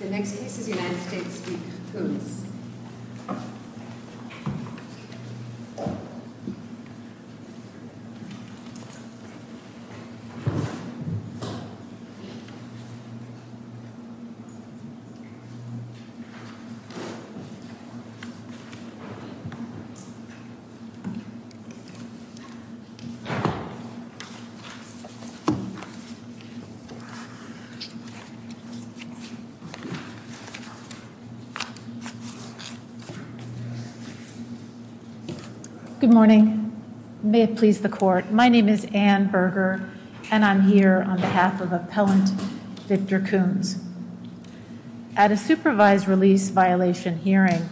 The next United States v. Kunz Good morning. May it please the court. My name is Ann Berger, and I'm here on behalf of Appellant Victor Kunz. At a supervised release violation hearing,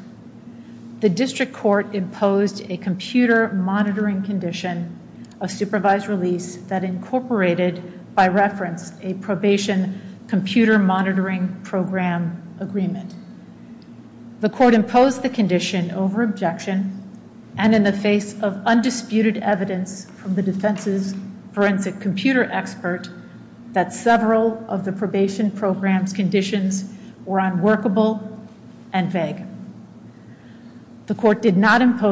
the District Court imposed a computer monitoring condition of supervised release that incorporated, by reference, a probation computer monitoring program agreement. The court imposed the condition over objection and in the face of undisputed evidence from the defense's forensic computer experts that several of the probation program's conditions were unworkable and vague. The court did not with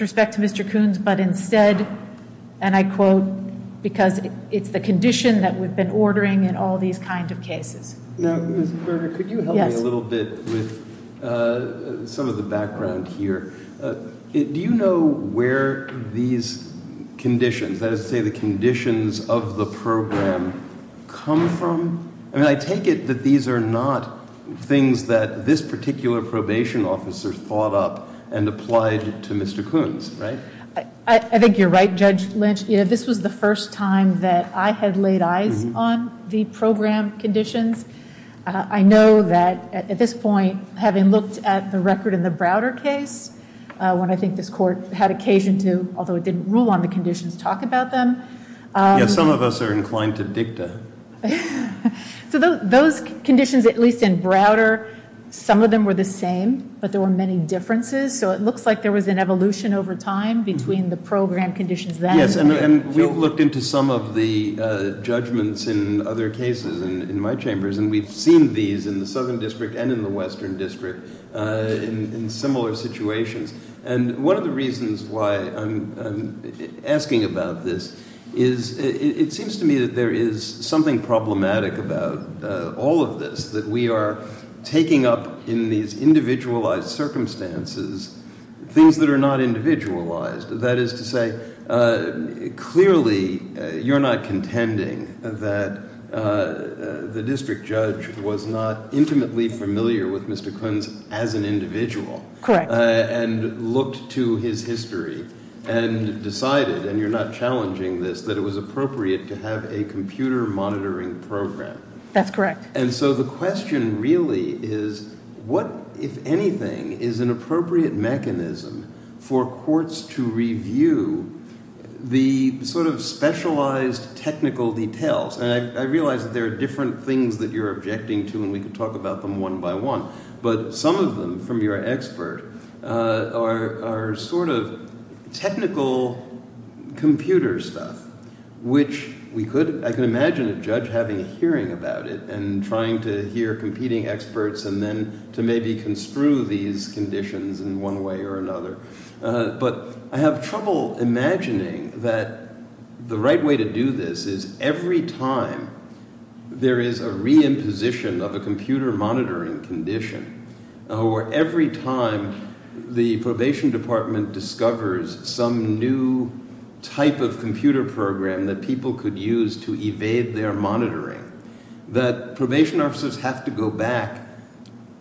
respect to Mr. Kunz, but instead, and I quote, because it's the condition that we've been ordering in all these kinds of cases. Now, Ms. Berger, could you help me a little bit with some of the background here? Do you know where these conditions, that is to say the conditions of the program, come from? I mean, I take it that these are not things that this particular probation officer's thought up and applied to Mr. Kunz, right? I think you're right, Judge Lynch. This was the first time that I had laid eyes on the program conditions. I know that at this point, having looked at the record in the Browder case, when I think this court had occasion to, although it didn't rule on the conditions, talk about them. Yes, some of us are inclined to dictate. So those conditions, at least in Browder, some of them were the same, but there were many differences. So it looks like there was an evolution over time between the program conditions. Yes, and we've looked into some of the judgments in other cases in my chambers, and we've seen these in the Southern District and in the Western District in similar situations. And one of the reasons why I'm asking about this is it seems to me that there is something problematic about all of this, that we are taking up in these individualized circumstances things that are not individualized. That is to say, clearly, you're not contending that the district judge was not intimately familiar with Mr. Kunz as an individual. Correct. And looked to his history and decided, and you're not challenging this, that it was appropriate to have a computer monitoring program. That's correct. And so the question really is, what, if anything, is an appropriate mechanism for courts to review the sort of specialized technical details? And I realize that there are different things that you're objecting to, and we can talk about them one by one. But some of them, from your expert, are sort of technical computer stuff, which I can imagine a judge having hearing about it and trying to hear competing experts and then to maybe construe these conditions in one way or another. But I have trouble imagining that the right way to do this is every time there is a reimposition of a computer monitoring condition, or every time the probation department discovers some new type of computer program that people could use to evade their monitoring, that probation officers have to go back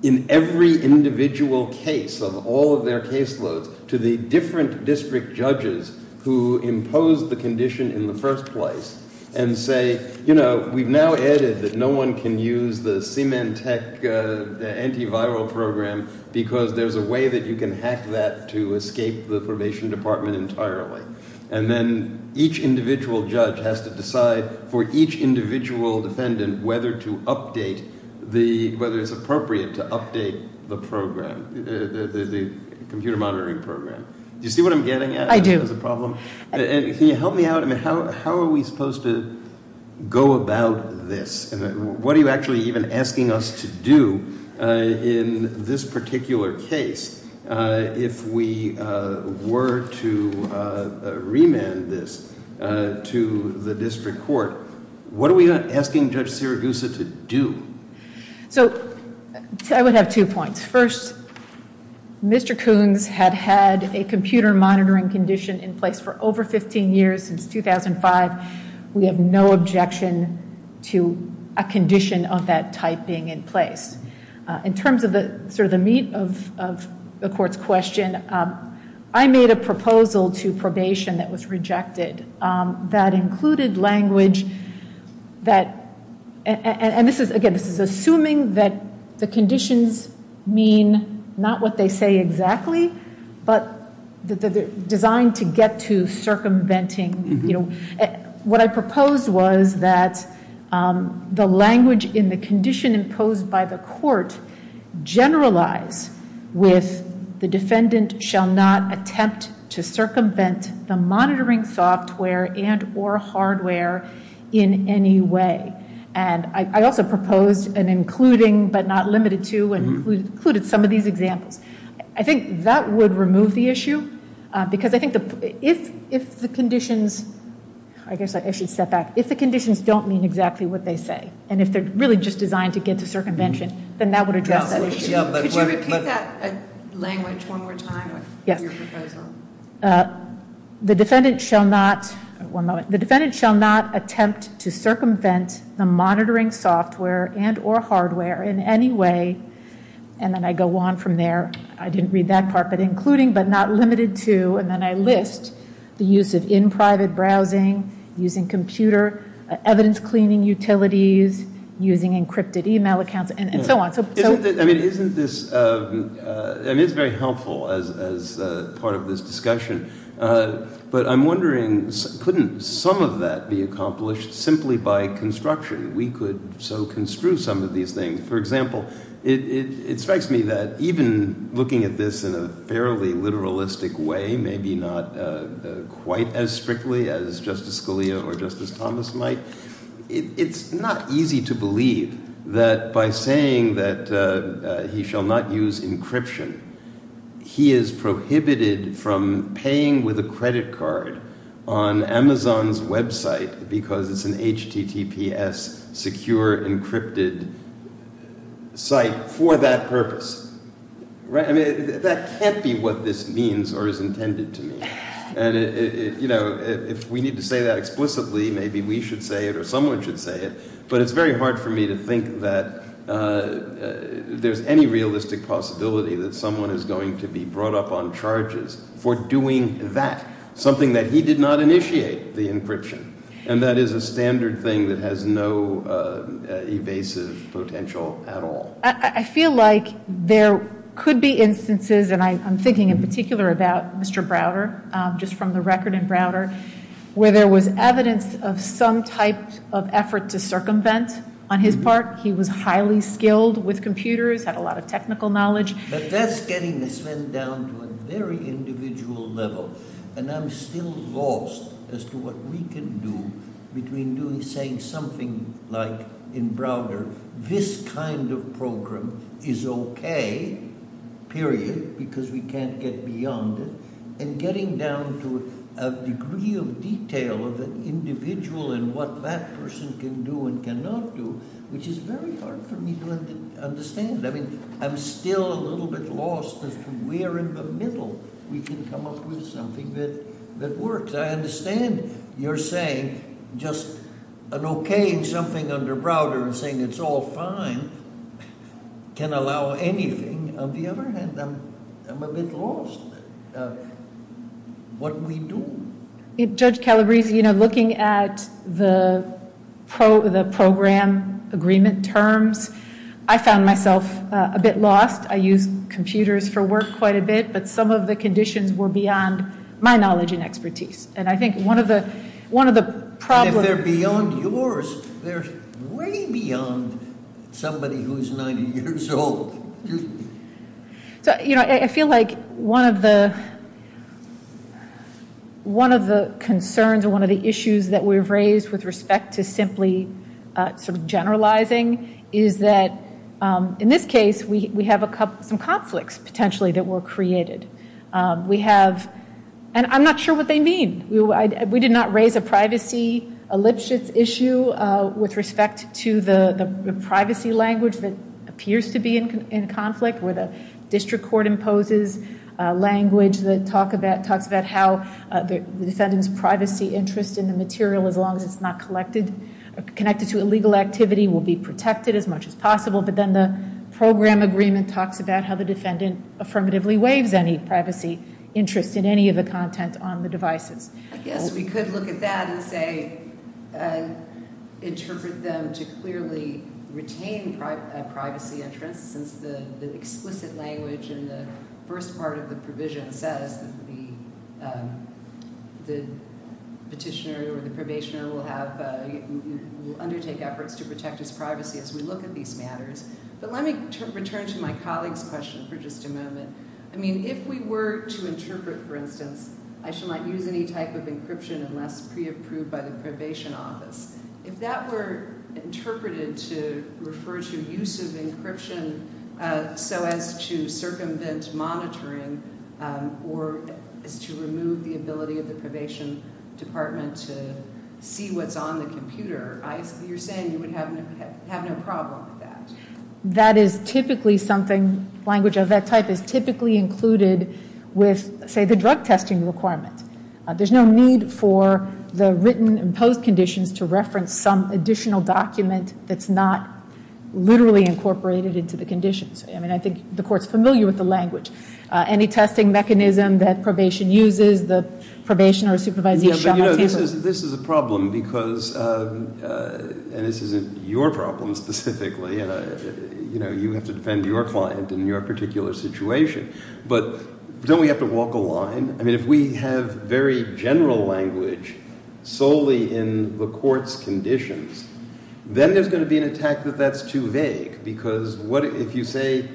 in every individual case of all of their caseloads to the different district judges who imposed the condition in the first place and say, you know, we've now added that no one can use the C-MEN Tech antiviral program because there's a way that you can hack that to escape the probation department entirely. And then each individual judge has to decide for each individual defendant whether it's appropriate to update the program, the computer monitoring program. Do you see what I'm getting at? I do. Can you help me out? How are we supposed to go about this? What are you actually even asking us to do in this particular case? If we were to remand this to the district court, what are we asking Judge Siragusa to do? So, I would have two points. First, Mr. Coons had had a computer monitoring condition in place for over 15 years, since 2005. We have no objection to a condition of that type being in place. In terms of the meat of the court's question, I made a proposal to probation that was rejected that included language that, and again, this is assuming that the conditions mean not what they say exactly, but designed to get to circumventing. What I proposed was that the language in the condition imposed by the court generalize with the defendant shall not attempt to circumvent the monitoring software and or hardware in any way. And I also proposed an including, but not limited to, and included some of these examples. I think that would remove the issue, because I think if the conditions, I guess I should step back, if the conditions don't mean exactly what they say, and if they're really just designed to get to circumvention, then that would address that issue. Could you repeat that language one more time? The defendant shall not attempt to circumvent the monitoring software and or hardware in any way, and then I go on from there. I didn't read that part, but including, but not limited to, and then I list the uses in private browsing, using computer evidence cleaning utilities, using encrypted email accounts, and so on. Isn't this, and it's very helpful as part of this discussion, but I'm wondering couldn't some of that be accomplished simply by construction? We could so construe some of these things. For example, it strikes me that even looking at this in a fairly literalistic way, maybe not quite as strictly as Justice Scalia or Justice Thomas might, it's not easy to believe that by saying that he shall not use encryption, he is prohibited from paying with a credit card on Amazon's website because it's an HTTPS secure encrypted site for that purpose. I mean, that can't be what this means or is intended to mean, and if we need to say that explicitly, maybe we should say it or someone should say it, but it's very hard for me to think that there's any realistic possibility that someone is going to be brought up on charges for doing that, something that he did not initiate, the encryption, and that is a standard thing that has no evasive potential at all. I feel like there could be instances, and I'm thinking in particular about Mr. Browder, just from the record in Browder, where there was evidence of some type of effort to circumvent on his part, he was highly skilled with computers, had a lot of technical knowledge. But that's getting us then down to a very individual level, and I'm still lost as to what we can do between saying something like, in Browder, this kind of program is okay, period, because we can't get beyond it, and getting down to a degree of detail of an individual and what that person can do and cannot do, which is very hard for me to understand. I mean, I'm still a little bit lost as to where in the middle we can come up with something that works. I understand you're saying just an okaying something under Browder and saying it's all fine can allow anything. On the other hand, I'm a bit lost. What do we do? Judge Calabresi, looking at the program agreement terms, I found myself a bit lost. I use computers for work quite a bit, but some of the conditions were beyond my knowledge and expertise. And I think one of the problems... They're beyond yours. They're way beyond somebody who's 90 years old. I feel like one of the concerns or one of the issues that we've raised with respect to simply generalizing is that, in this case, we have some conflicts potentially that were created. And I'm not sure what they mean. We did not raise a privacy issue with respect to the privacy language that appears to be in conflict where the district court imposes language that talks about how the defendant's privacy interest in the material, as long as it's not connected to illegal activity, will be protected as much as possible. But then the program agreement talks about how the defendant affirmatively waives any privacy interest in any of the content on the devices. We could look at that and say, interpret them to clearly retain a privacy interest since the explicit language in the first part of the provision says that the petitioner or the probationer will undertake efforts to protect his privacy as we look at these matters. But let me return to my colleague's question for just a moment. I mean, if we were to interpret, for instance, I shall not use any type of encryption unless pre-approved by the probation office, if that were interpreted to refer to use of encryption so as to circumvent monitoring or to remove the ability of the probation department to see what's on the computer, you're saying you would have no problem with that? That is typically something, language of that type is typically included with, say, the drug testing requirements. There's no need for the written imposed conditions to reference some additional document that's not literally incorporated into the conditions. I mean, I think the court's familiar with the language. Any testing mechanism that probation uses, the probation or supervisory... This is a problem because, and this isn't your problem specifically, you know, you have to defend your client in your particular situation. But don't we have to walk a line? I mean, if we have very general language solely in the court's conditions, then there's going to be an attack that that's too vague because if you say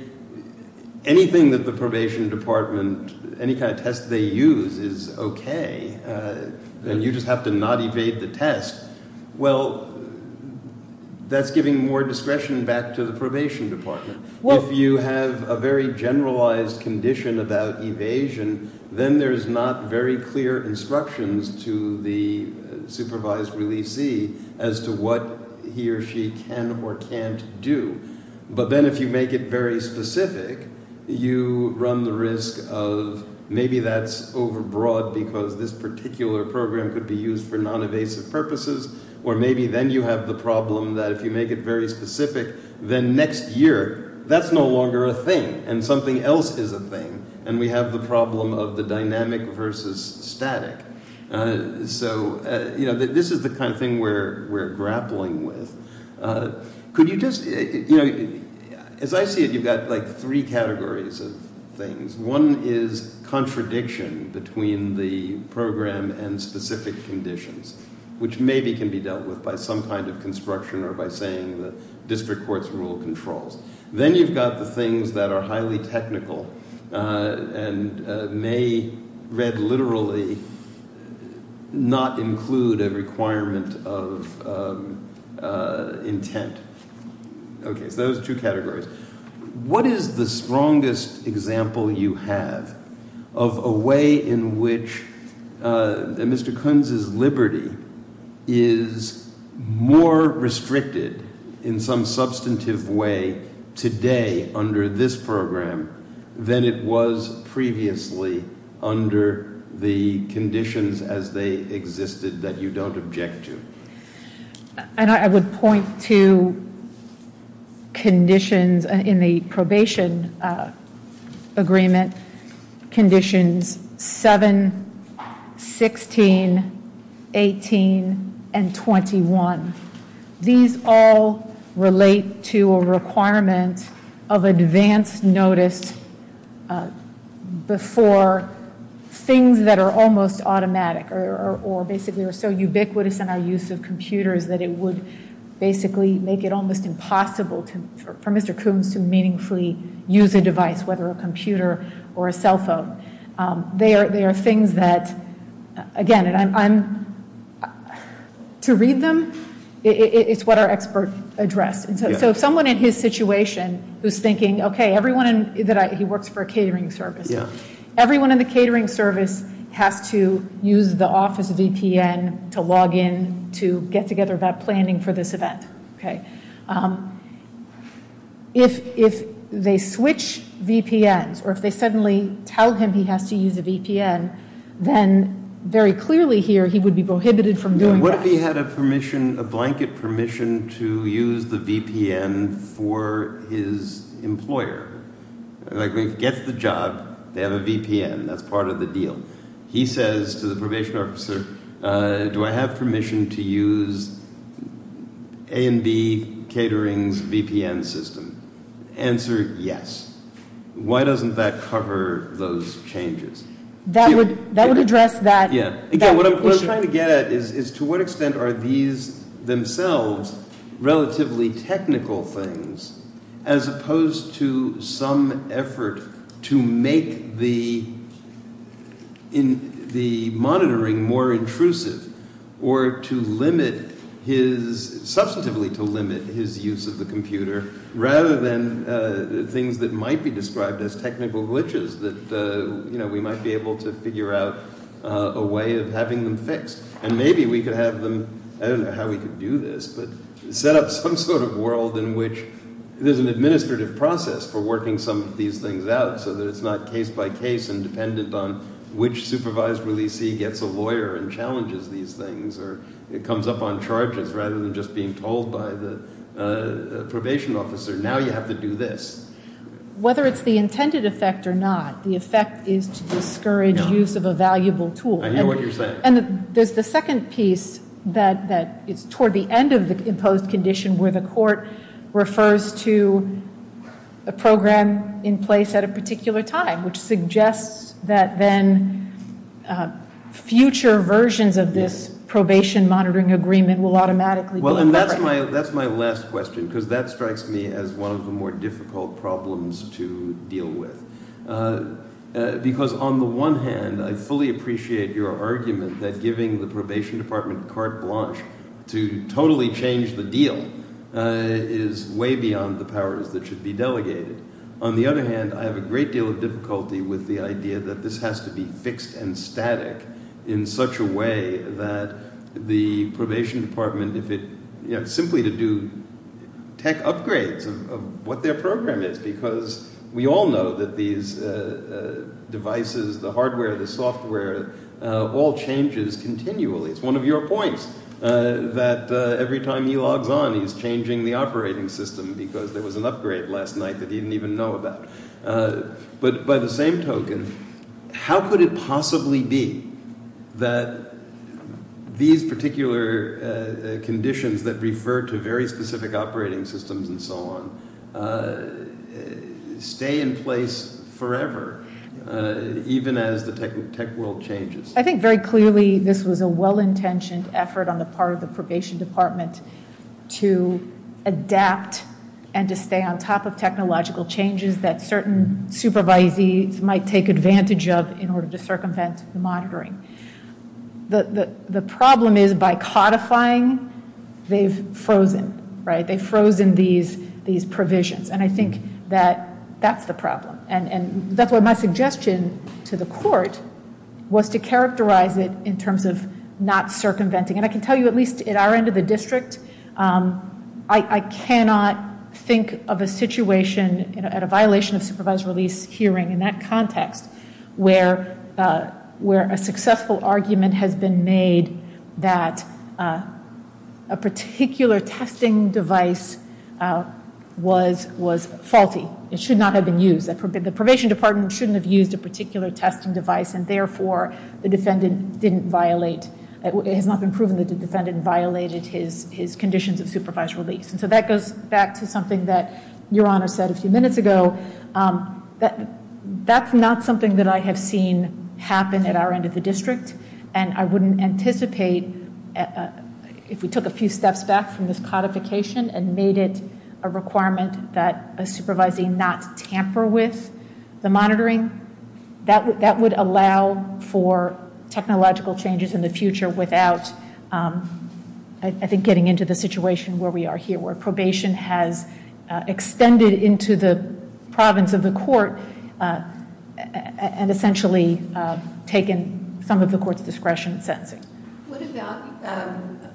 anything that the probation department, any kind of test they use is okay, then you just have to not evade the test. Well, that's giving more discretion back to the probation department. If you have a very generalized condition about evasion, then there's not very clear instructions to the supervised releasee as to what he or she can or can't do. But then if you make it very specific, you run the risk of maybe that's over-broad because this particular program could be used for non-evasive purposes. Or maybe then you have the problem that if you make it very specific, then next year that's no longer a thing and something else is a thing. And we have the problem of the dynamic versus static. So, you know, this is the kind of thing we're grappling with. Could you just, you know, as I see it, you've got like three categories of things. One is contradiction between the program and specific conditions, which maybe can be dealt with by some kind of construction or by saying the district court's rule controls. Then you've got the things that are highly technical and may read literally not include a requirement of intent. Okay, those two categories. What is the strongest example you have of a way in which Mr. Kunz's liberty is more restricted in some substantive way today under this program than it was previously under the conditions as they existed that you don't object to? I would point to conditions in the probation agreement, conditions 7, 16, 18, and 21. These all relate to a requirement of advance notice before things that are almost automatic or basically are so ubiquitous in our use of computers that it would basically make it almost impossible for Mr. Kunz to meaningfully use a device, whether a computer or a cell phone. There are things that, again, to read them, it's what our experts address. So someone in his situation who's thinking, okay, everyone, he works for a catering service. Everyone in the catering service has to use the office VPN to log in to get together that planning for this event. Okay. If they switch VPNs or if they suddenly tell him he has to use a VPN, then very clearly here he would be prohibited from doing that. What if he had a permission, a blanket permission to use the VPN for his employer? Like they get the job, they have a VPN, that's part of the deal. He says to the probation officer, do I have permission to use A&B Catering's VPN system? Answer, yes. Why doesn't that cover those changes? That would address that. Yes. Again, what I'm trying to get at is to what extent are these themselves relatively technical things as opposed to some effort to make the monitoring more intrusive or to limit his, substantively to limit his use of the computer rather than things that might be described as technical glitches that we might be able to figure out a way of having them fixed. And maybe we could have them, I don't know how we could do this, but set up some sort of world in which there's an administrative process for working some of these things out so that it's not case by case and dependent on which supervisor we see gets a lawyer and challenges these things or it comes up on charges rather than just being told by the probation officer, now you have to do this. Whether it's the intended effect or not, the effect is to discourage use of a valuable tool. I know what you're saying. And there's the second piece that is toward the end of the imposed condition where the court refers to a program in place at a particular time which suggests that then future versions of this probation monitoring agreement will automatically be... Well, and that's my last question because that strikes me as one of the more difficult problems to deal with. Because on the one hand, I fully appreciate your argument that giving the probation department carte blanche to totally change the deal is way beyond the powers that should be delegated. On the other hand, I have a great deal of difficulty with the idea that this has to be fixed and static in such a way that the probation department, simply to do tech upgrades of what their program is because we all know that these devices, the hardware, the software, all changes continually. It's one of your points that every time he logs on he's changing the operating system because there was an upgrade last night that he didn't even know about. But by the same token, how could it possibly be that these particular conditions that refer to very specific operating systems and so on stay in place forever even as the tech world changes? I think very clearly this was a well-intentioned effort on the part of the probation department to adapt and to stay on top of technological changes that certain supervisees might take advantage of in order to circumvent monitoring. The problem is by codifying, they've frozen. They've frozen these provisions and I think that that's the problem. And that's why my suggestion to the court was to characterize it in terms of not circumventing. And I can tell you at least at our end of the district I cannot think of a situation at a violation of supervised release hearing in that context where a successful argument has been made that a particular testing device was faulty. It should not have been used. The probation department shouldn't have used a particular testing device and therefore the defendant didn't violate it has not been proven that the defendant violated his conditions of supervised release. So that goes back to something that Your Honor said a few minutes ago. That's not something that I have seen happen at our end of the district and I wouldn't anticipate if we took a few steps back from this codification and made it a requirement that the supervising not tamper with the monitoring that would allow for technological changes in the future without I think getting into the situation where we are here where probation has extended into the province of the court and essentially taken some of the court's discretion.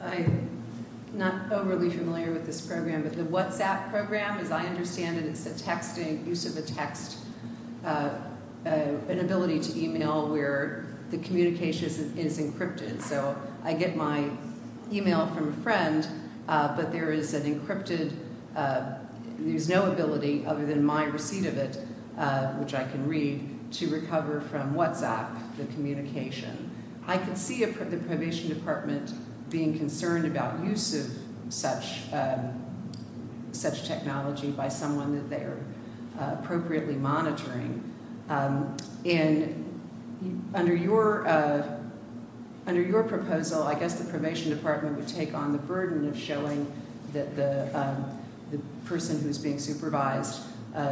I'm not overly familiar with this program but the WhatsApp program as I understand it is the use of a text an ability to email where the communication is encrypted. So I get my email from a friend but there is an encrypted there is no ability other than my receipt of it which I can read to recover from WhatsApp the communication. I can see a probation department being concerned about use of such technology by someone that they are appropriately monitoring and under your proposal I guess the probation department would take on the burden of showing that the person who is being supervised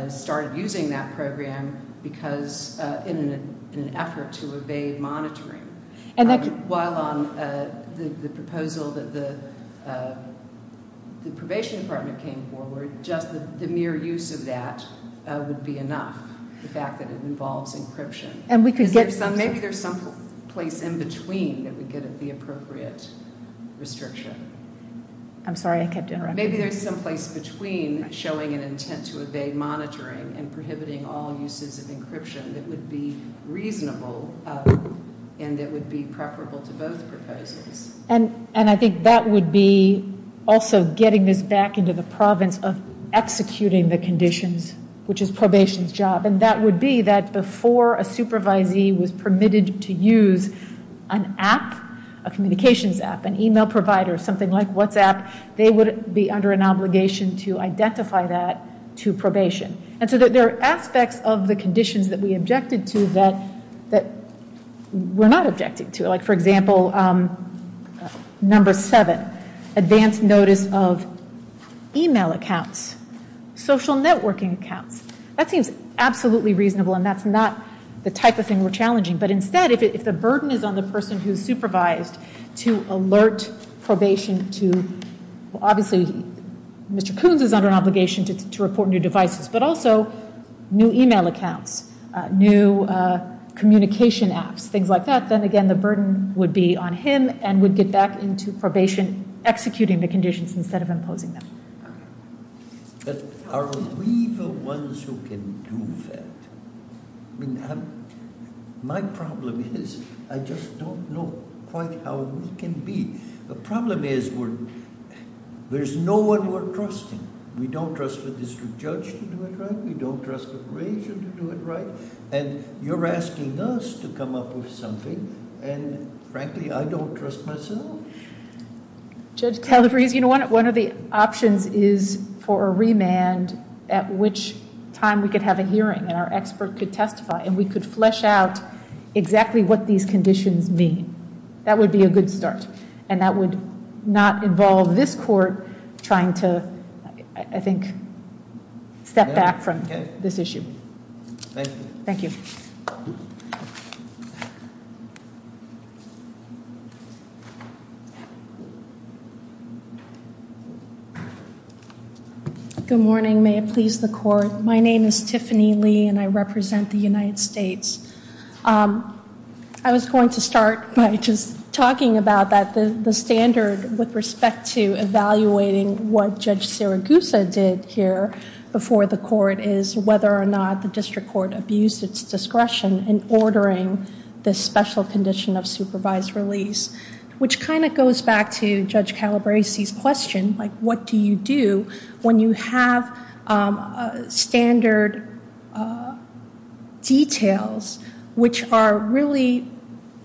started using that program because in an effort to evade monitoring. While on the proposal that the probation department came forward just the mere use of that would be enough. The fact that it involves encryption. Maybe there is some place in between that would be appropriate restriction. I'm sorry I kept interrupting. Maybe there is some place between showing an intent to evade monitoring and prohibiting all uses of encryption that would be reasonable and it would be preferable to both proposals. And I think that would be also getting this back into the province of executing the conditions which is probation's job. And that would be that before a supervisee was permitted to use an app a communications app, an email provider, something like WhatsApp they would be under an obligation to identify that to probation. And so there are aspects of the conditions that we objected to that we are not objecting to. Like for example, number seven, advance notice of email accounts, social networking accounts. That seems absolutely reasonable and that's not the type of thing we are challenging. But instead if the burden is on the person who supervised to alert probation to obviously Mr. Coons is under obligation to report new devices, but also new email accounts, new communication apps, things like that then again the burden would be on him and would get back into probation executing the conditions instead of imposing them. But are we the ones who can do that? My problem is I just don't know quite how we can be. The problem is there's no one we're trusting. We don't trust the district judge to do it right, we don't trust the probation to do it right and you're asking us to come up with something and frankly I don't trust myself. One of the options is for a remand at which time we could have a hearing and our expert could testify and we could flesh out exactly what these conditions mean. That would be a good start and that would not involve this court trying to I think step back from this issue. Thank you. Good morning. May it please the court. My name is Tiffany Lee and I represent the United States. I was going to start by just talking about that the standard with respect to evaluating what Judge Siragusa did here before the court is whether or not the district court abused its discretion which kind of goes back to the question that goes back to Judge Calabresi's question like what do you do when you have standard details which are really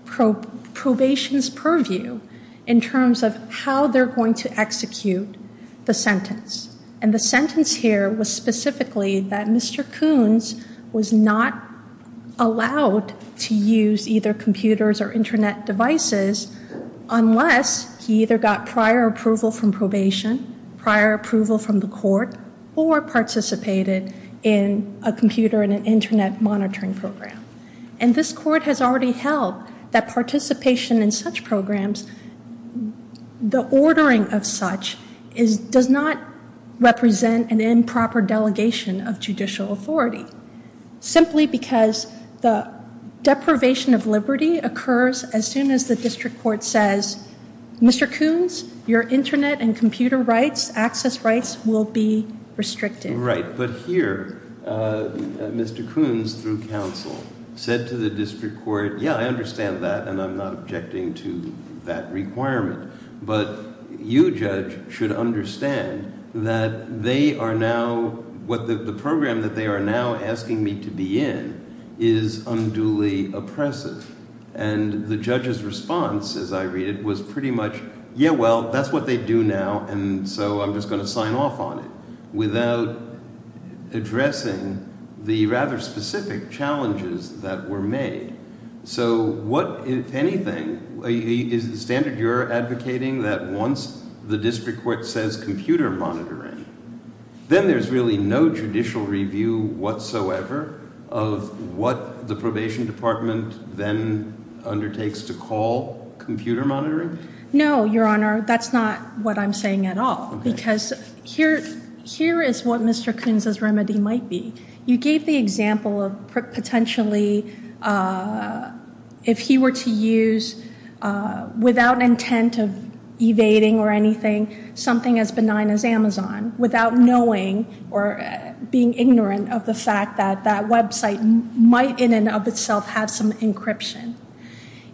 probation's purview in terms of how they're going to execute the sentence and the sentence here was specifically that Mr. Coons was not allowed to use either computers or internet devices unless he either got prior approval from probation, prior approval from the court or participated in a computer and an internet monitoring program and this court has already held that participation in such programs the ordering of such does not represent an improper delegation of judicial authority simply because the deprivation of liberty occurs as soon as the district court says Mr. Coons, your internet and computer rights access rights will be restricted. Right, but here Mr. Coons through counsel said to the district court yeah I understand that and I'm not objecting to that requirement but you judge should understand that they are now the program that they are now asking me to be in is unduly oppressive and the judge's response as I read it was pretty much yeah well that's what they do now and so I'm just going to sign off on it without addressing the rather specific challenges that were made so what if anything is the standard you're advocating that once the district court says computer monitoring then there's really no judicial review whatsoever of what the probation department then undertakes to call computer monitoring? No your honor that's not what I'm saying at all because here is what Mr. Coons' remedy might be you gave the example of potentially if he were to use without intent of something as benign as Amazon without knowing or being ignorant of the fact that that website might in and of itself have some encryption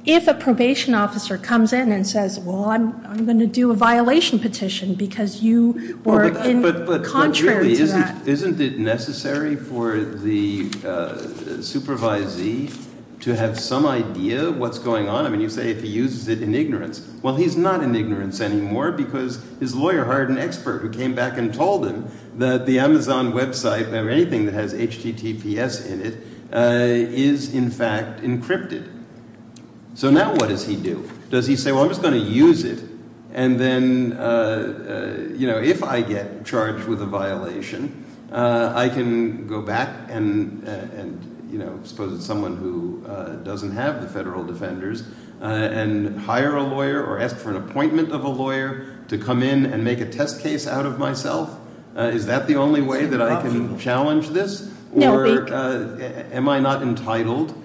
if a probation officer comes in and says well I'm going to do a violation petition because you were in contrary to that isn't it necessary for the supervisee to have some idea of what's going on and you say if he uses it in ignorance well he's not in ignorance anymore because his lawyer hired an expert who came back and told him that the Amazon website if I have anything that has HTTPS in it is in fact encrypted so now what does he do? Does he say well I'm just going to use it and then if I get charged with a violation I can go back and suppose it's someone who doesn't have the federal defenders and hire a lawyer or ask for an appointment of a lawyer to come in and make a test case out of myself is that the only way that I can challenge this or am I not entitled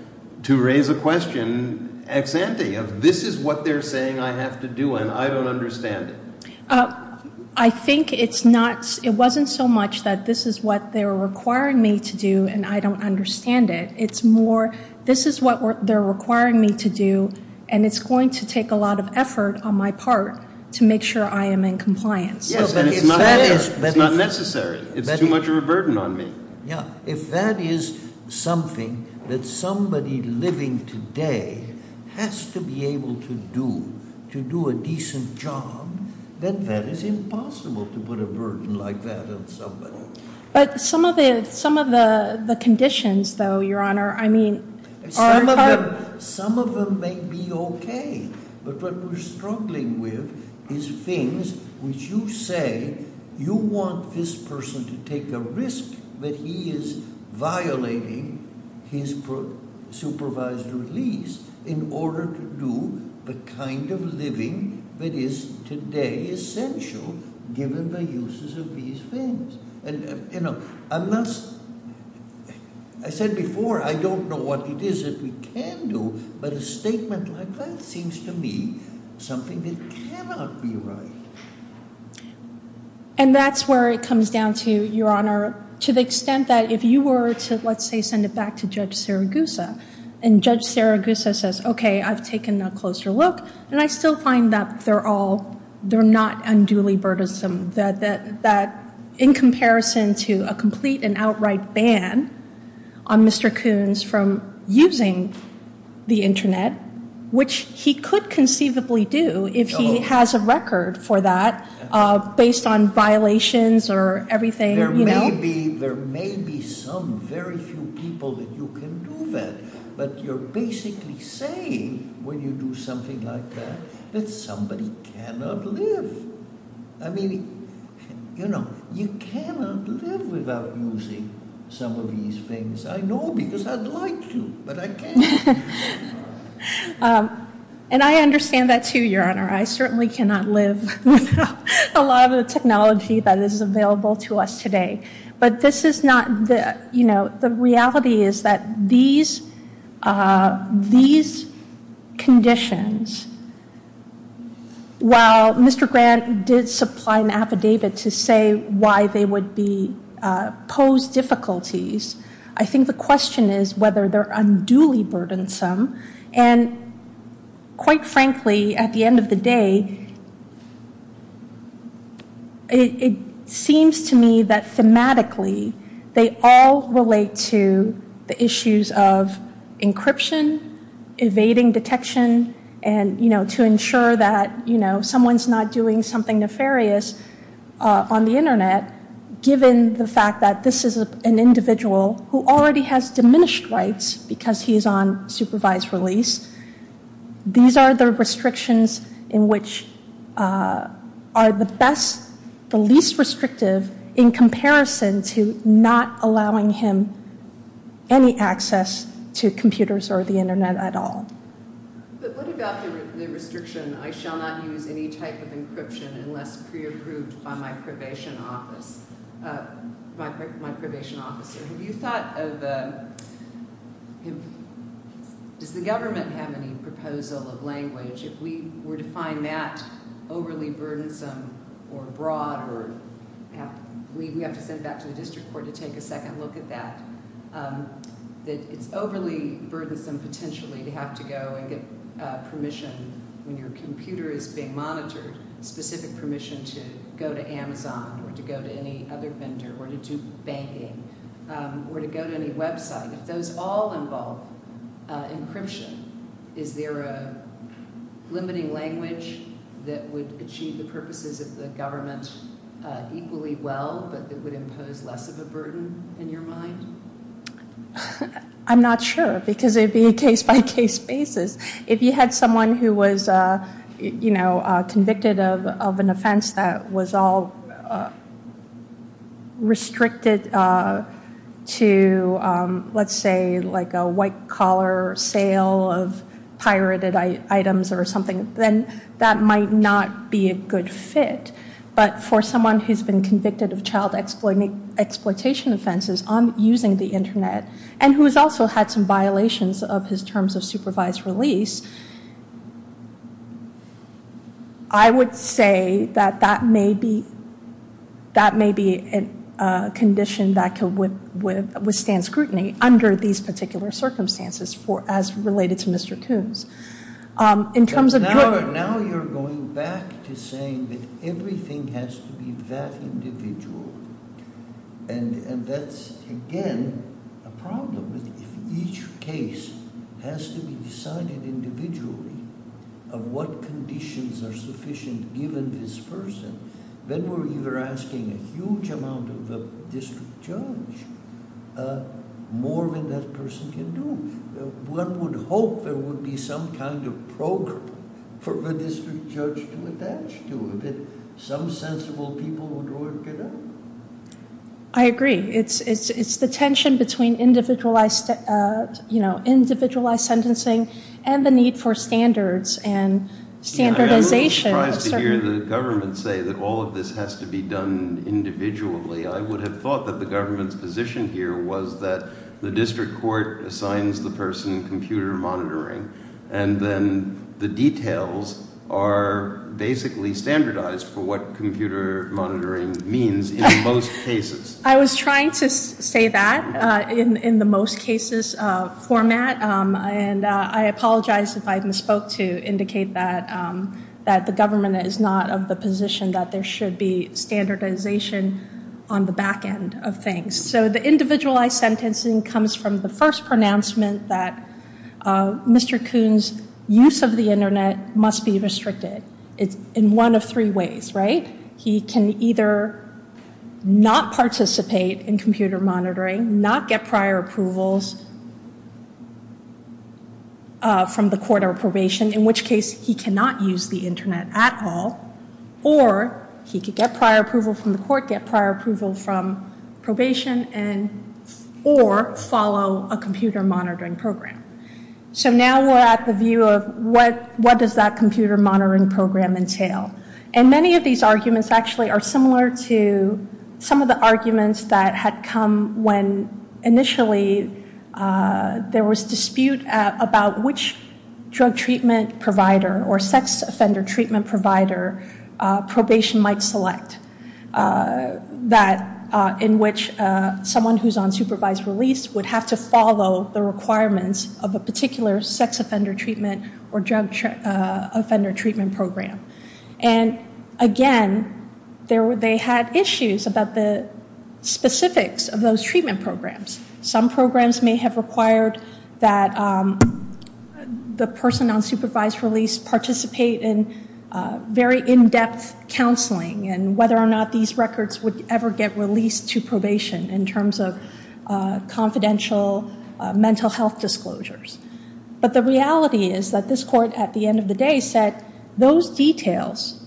to raise a question ex-ante if this is what they're saying I have to do and I don't understand I think it's not, it wasn't so much that this is what they're requiring me to do and I don't understand it it's more this is what they're requiring me to do and it's going to take a lot of effort on my part to make sure I am in compliance it's not necessary it's too much of a burden on me if that is something that somebody living today has to be able to do to do a decent job then that is impossible to put a burden like that on somebody but some of the conditions though your honor, I mean some of them may be okay but what we're struggling with is things which you say you want this person to take a risk that he is violating his supervised release in order to do the kind of living that is today essential given the uses of these things and you know unless I said before I don't know what it is that we can do but a statement of advice seems to me something that cannot be right and that's where it comes down to your honor to the extent that if you were to let's say send it back to judge Saragusa and judge Saragusa says okay I've taken a closer look and I still find that they're all they're not unduly burdensome that in comparison to a complete and outright ban on Mr. Coons from using the internet which he could conceivably do if he has a record for that based on violations or everything you know there may be some very few people that you can do that but you're basically saying when you do something like that that somebody cannot live I mean you know you cannot live without using some of these things I know because I'd like to but I can't and I understand that too your honor I certainly cannot live without a lot of the technology that is available to us today but this is not you know the reality is that these these conditions while Mr. Grant did supply an affidavit to say why they would be pose difficulties I think the question is whether they're unduly burdensome and quite frankly at the end of the day it seems to me that thematically they all relate to the issues of encryption evading detection and you know to ensure that you know someone's not doing something nefarious on the internet given the fact that this is an individual who already has diminished rights because he's on supervised release these are the restrictions in which are the best the least restrictive in comparison to not allowing him any access to computers or the internet at all but what about the restriction I shall not use any type of encryption unless pre-approved by my probation officer my probation officer have you thought of does the government have any proposal of language if we were to find that overly burdensome or broad we'd have to send that to the district court to take a second look at that it's overly burdensome potentially to have to go get permission when your computer is being monitored specific permission to go to Amazon or to go to any other vendor or to do banking or to go to any website if those all involve encryption is there a limiting language that would achieve the purposes of the government equally well but that would impose less of a burden in your mind I'm not sure because it would be case by case basis if you had someone who was convicted of an offense that was all restricted to let's say like a white collar sale of pirated items or something then that might not be a good fit but for someone who's been convicted of child exploitation offenses on using the internet and who has also had some violations of his terms of supervised release I would say that that may be that may be a condition that would withstand scrutiny under these particular circumstances as related to Mr. Coons in terms of Now you're going back to saying that everything has to be that individual and that's again a problem that in each case has to be decided individually of what conditions are sufficient given this person then we're either asking a huge amount of the district judge more than that person can do one would hope there would be some kind of program for the district judge to attach to that some sensible people would work it out I agree it's the tension between individualized sentencing and the need for standards and standardization the government say that all of this has to be done individually I would have thought that the government's position here was that the district court assigns the person computer monitoring and then the details are basically standardized for what computer monitoring means in most cases I was trying to say that in the most cases format and I apologize if I misspoke to indicate that the government is not of the position that there should be standardization on the back end of things so the individualized sentencing comes from the first pronouncement that Mr. Coons use of the internet must be he can either not participate in computer monitoring, not get prior approvals from the court of probation in which case he cannot use the internet at all or he could get prior approvals from the court get prior approvals from probation or follow a computer monitoring program so now we're at the view of what does that computer monitoring program entail and many of these arguments are similar to some of the arguments that had come when initially there was dispute about which drug treatment provider or sex offender treatment provider probation might select that in which someone who's on supervised release would have to follow the requirements of a particular sex offender treatment or drug offender treatment program and again they had issues about the specifics of those treatment programs some programs may have required that the person on supervised release participate in very in depth counseling and whether or not these records would ever get released to probation in terms of confidential mental health disclosures but the reality is that this court at the end of the day said those details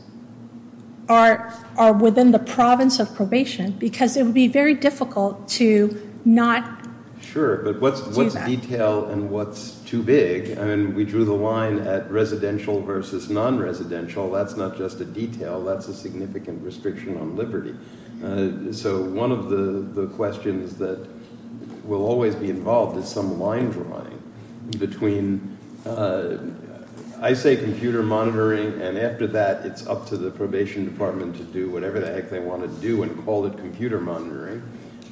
are within the province of probation because it would be very difficult to not sure but what's detail and what's too big and we drew the line at residential versus non-residential that's not just a detail that's a significant restriction on liberty so one of the questions that will always be involved is some line drawing between I say computer monitoring and after that it's up to the probation department to do whatever the heck they want to do and call it computer monitoring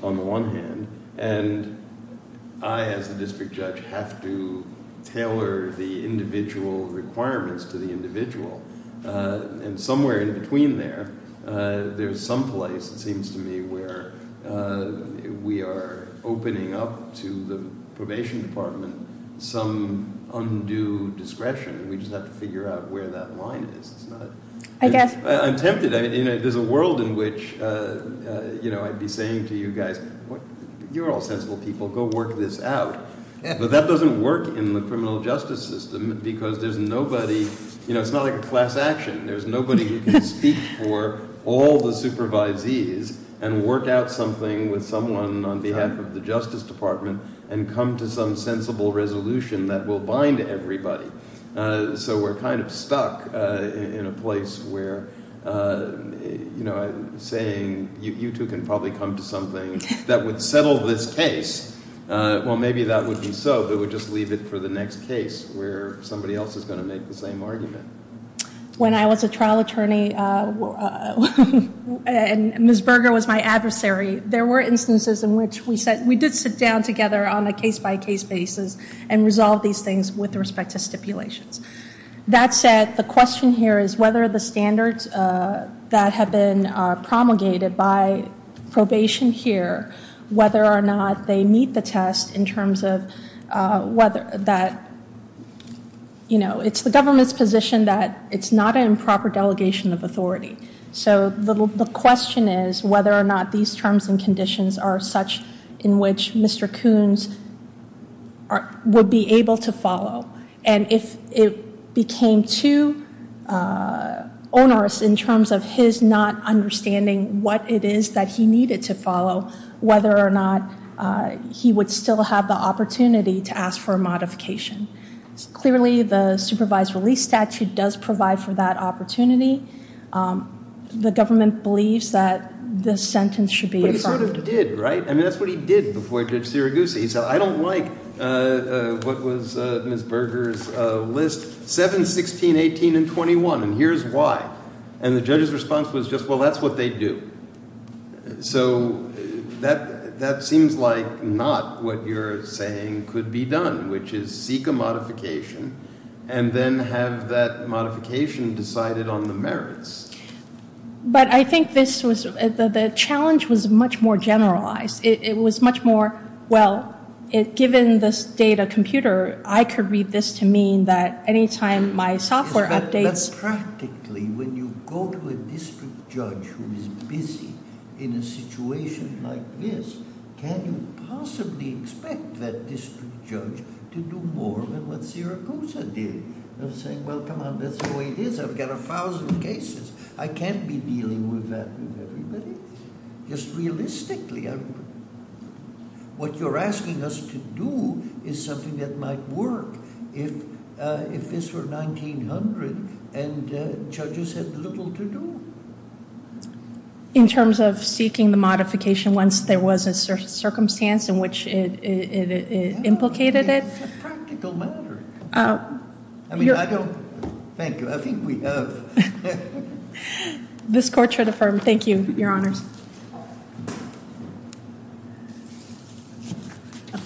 on the one hand and I as a district judge have to tailor the individual requirements to the individual and somewhere in between there there's some place it seems to me where we are opening up to the probation department some undue discretion and we just have to figure out where that line is I'm tempted, there's a world in which I'd be saying to you guys you're all sensible people, go work this out but that doesn't work in the criminal justice system because there's nobody, it's not like a class action there's nobody who can speak for all the supervisees and work out something with someone on behalf of the justice department and come to some sensible resolution that will bind everybody so we're kind of stuck in a place where I'm saying, you two can probably come to something that would settle this case, well maybe that wouldn't be so but we'd just leave it for the next case where somebody else is going to make the same argument when I was a trial attorney and Ms. Berger was my adversary there were instances in which we did sit down together on a case by case basis and resolve these things with respect to stipulations that said, the question here is whether the standards that have been promulgated by probation here whether or not they meet the test in terms of whether that you know, it's the government's position that it's not an improper delegation of authority so the question is whether or not these terms and conditions are such in which Mr. Coons would be able to follow and if it became too onerous in terms of his not understanding what it is that he needed to follow whether or not he would still have the opportunity to ask for a modification clearly the supervised release statute does provide for that opportunity the government believes that this sentence should be affirmed he sort of did, right? I don't like what was Ms. Berger's list 7, 16, 18, and 21 and here's why and the judge's response was just, well that's what they do so that seems like not what you're saying could be done, which is seek a modification and then have that modification decided on the merits but I think this was the challenge was much more generalized it was much more, well given the state of computer I could read this to mean that any time my software updates practically when you go to a district judge who is busy in a situation like this, can you possibly expect that district judge to do more than what Sierra Cruz did and say, well come on, that's the way it is I've got a thousand cases, I can't be dealing with that with everybody just realistically what you're asking us to do is something that might work if this were 1900 and judges had little to do in terms of seeking the modification once there was a circumstance in which it implicated it this court should affirm thank you, your honor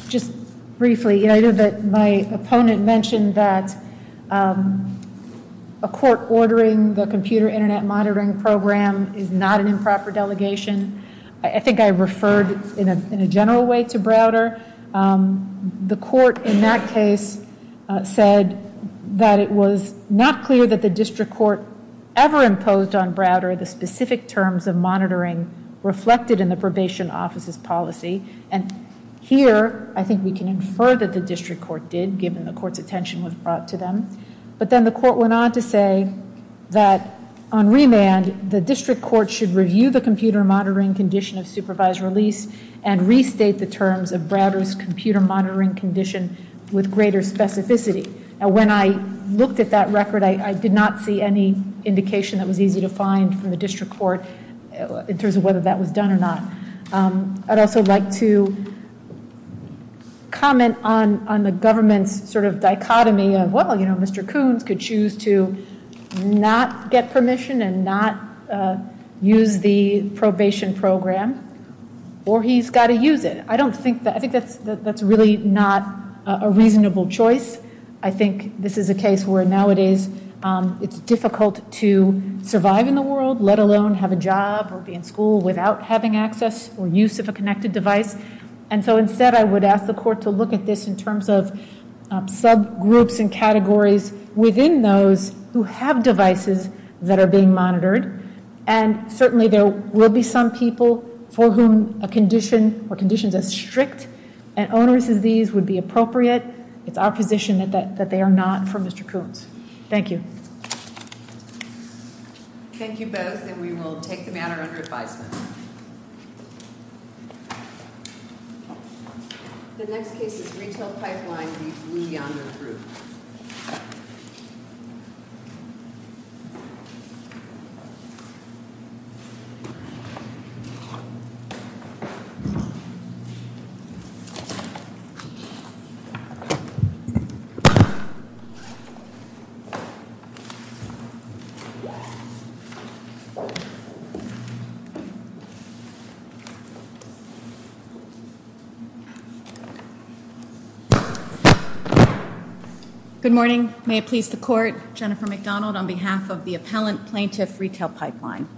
just briefly, my opponent mentioned that a court ordering the computer internet monitoring program is not an improper delegation I think I referred in a general way to Browder the court in that case said that it was not clear that the district court ever imposed on Browder the specific terms of monitoring reflected in the probation office's policy here, I think we can infer that the district court did, given the court's attention was brought to them but then the court went on to say that on remand the district court should review the computer monitoring condition of supervised release and restate the terms of Browder's computer monitoring condition with greater specificity when I looked at that record I did not see any indication that was easy to find from the district court in terms of whether that was done or not I'd also like to comment on the government sort of dichotomy of Mr. Kuhn could choose to not get permission and not use the probation program or he's got to use it I think that's really not a reasonable choice I think this is a case where nowadays it's difficult to survive in the world, let alone have a job or be in school without having access or use of a connected device and so instead I would ask the court to look at this in terms of subgroups and categories within those who have devices that are being monitored and certainly there will be some people for whom a condition is strict and owners of these would be appropriate with our condition that they are not for Mr. Kuhn. Thank you. Thank you both and we will take the matter under advisement. The next case is Retail Pipeline v. Lee on the Proof Good morning. May it please the court. Jennifer McDonald on behalf of the Appellant Plaintiff Retail Pipeline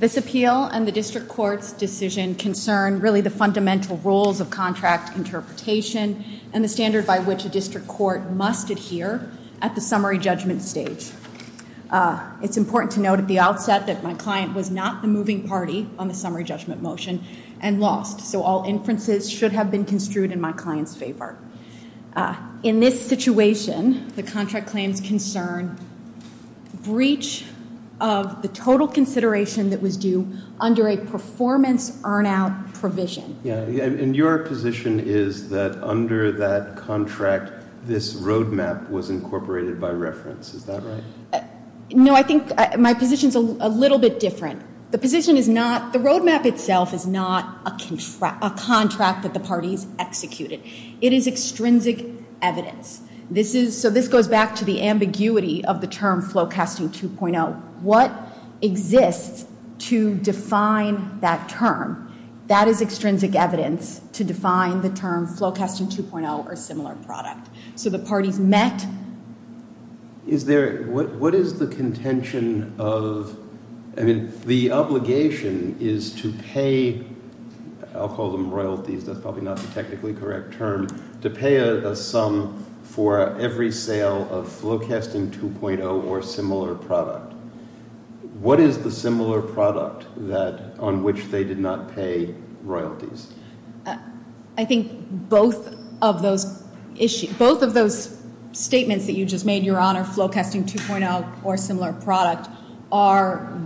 This appeal and the district court's decision concern really the fundamental roles of contract interpretation and the standard by which a district court must adhere at the summary judgment stage and that he was not the plaintiff's client. He was the plaintiff's client on the summary judgment motion and lost, so all inferences should have been construed in my client's favor. In this situation the contract claims concern breach of the total consideration that was due under a performance earn out provision And your position is that under that contract this roadmap was incorporated by reference, is that right? No, I think my position is a The roadmap itself is not a contract that the parties executed. It is extrinsic evidence. This is goes back to the ambiguity of the term Flowcasting 2.0 What exists to define that term that is extrinsic evidence to define the term Flowcasting 2.0 or similar product So the parties met Is there, what is the contention of The obligation is to pay I'll call them royalties, that's probably not a technically correct term, to pay a sum for every sale of Flowcasting 2.0 or similar product What is the similar product that, on which they did not pay royalties? I think both of those issues, both of those statements that you just made, Your Honor Flowcasting 2.0 or similar products are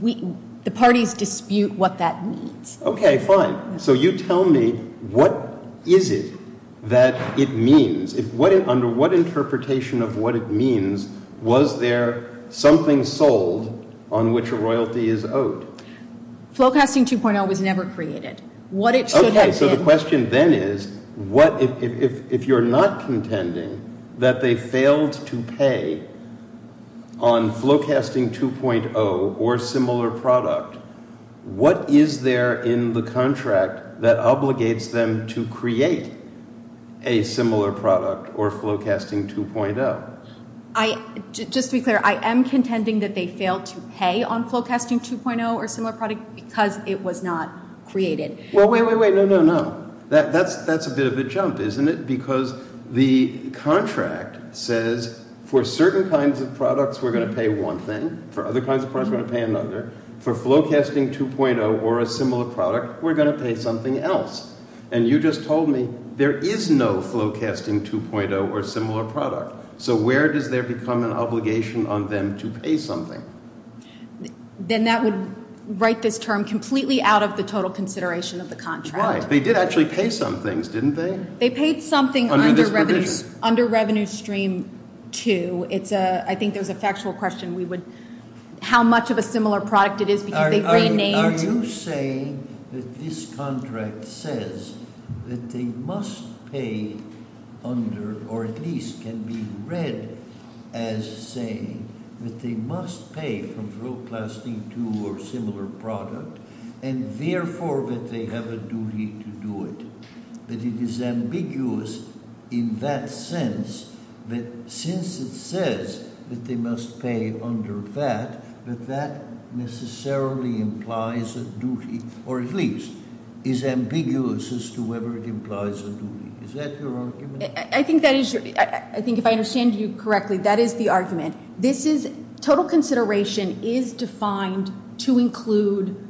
The parties dispute what that means. Okay, fine So you tell me, what is it that it means Under what interpretation of what it means, was there something sold on which a royalty is owed? Flowcasting 2.0 was never created. What it should have been So the question then is if you're not contending that they failed to pay on Flowcasting 2.0 or similar product, what is there in the contract that obligates them to create a similar product or Flowcasting 2.0? I, just to be clear I am contending that they failed to pay on Flowcasting 2.0 or similar product because it was not created Well, wait, wait, wait, no, no, no That's a bit of a jump, isn't it? Because the contract says for certain kinds of products we're going to pay one thing for other kinds of products we're going to pay another For Flowcasting 2.0 or a similar product, we're going to pay something else And you just told me there is no Flowcasting 2.0 or similar product. So where does there become an obligation on them to pay something? Then that would write this term completely out of the total consideration of the contract. Why? They did actually pay some things, didn't they? They paid something Under Revenue Stream 2.0 it's a, I think there's a factual question How much of a similar product it is Are you saying that this contract says that they must pay under or at least can be read as saying that they must pay for Flowcasting 2.0 or similar product and therefore that they have a duty to do it That it is ambiguous in that sense that since it says that they must pay under that that that necessarily implies a duty or at least is ambiguous as to whether it implies a duty Is that your argument? I think that is I think if I understand you correctly that is the argument. This is total consideration is defined to include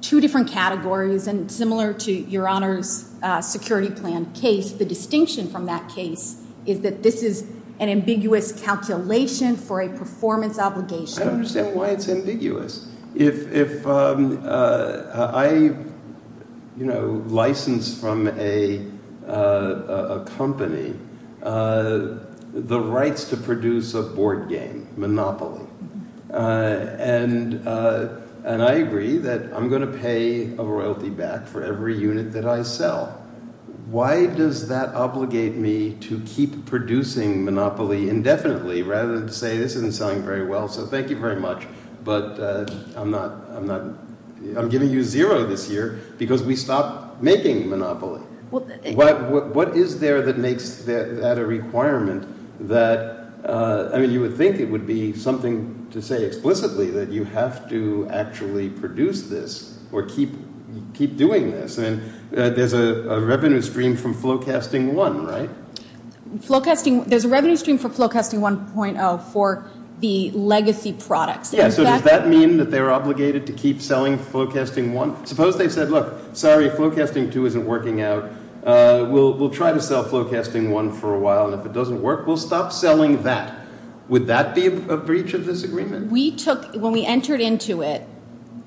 two different categories Similar to your honors security plan case the distinction from that case is that this is an ambiguous calculation for a performance obligation I don't understand why it's ambiguous If I license from a company the rights to produce a board game monopoly and I agree that I'm going to pay a royalty back for every unit that I sell Why does that obligate me to keep producing monopoly indefinitely rather than say this is going to sound very well so thank you very much but I'm giving you zero this year because we stopped making monopoly What is there that makes that a requirement that you would think it would be something to say explicitly that you have to actually produce this or keep doing this There's a revenue stream from Flowcasting 1 right? There's a revenue stream from Flowcasting 1.0 for the legacy product Does that mean that they're obligated to keep selling Flowcasting 1 Suppose they said look sorry Flowcasting 2 isn't working out we'll try to sell Flowcasting 1 for a while and if it doesn't work we'll stop selling that. Would that be a breach of this agreement? When we entered into it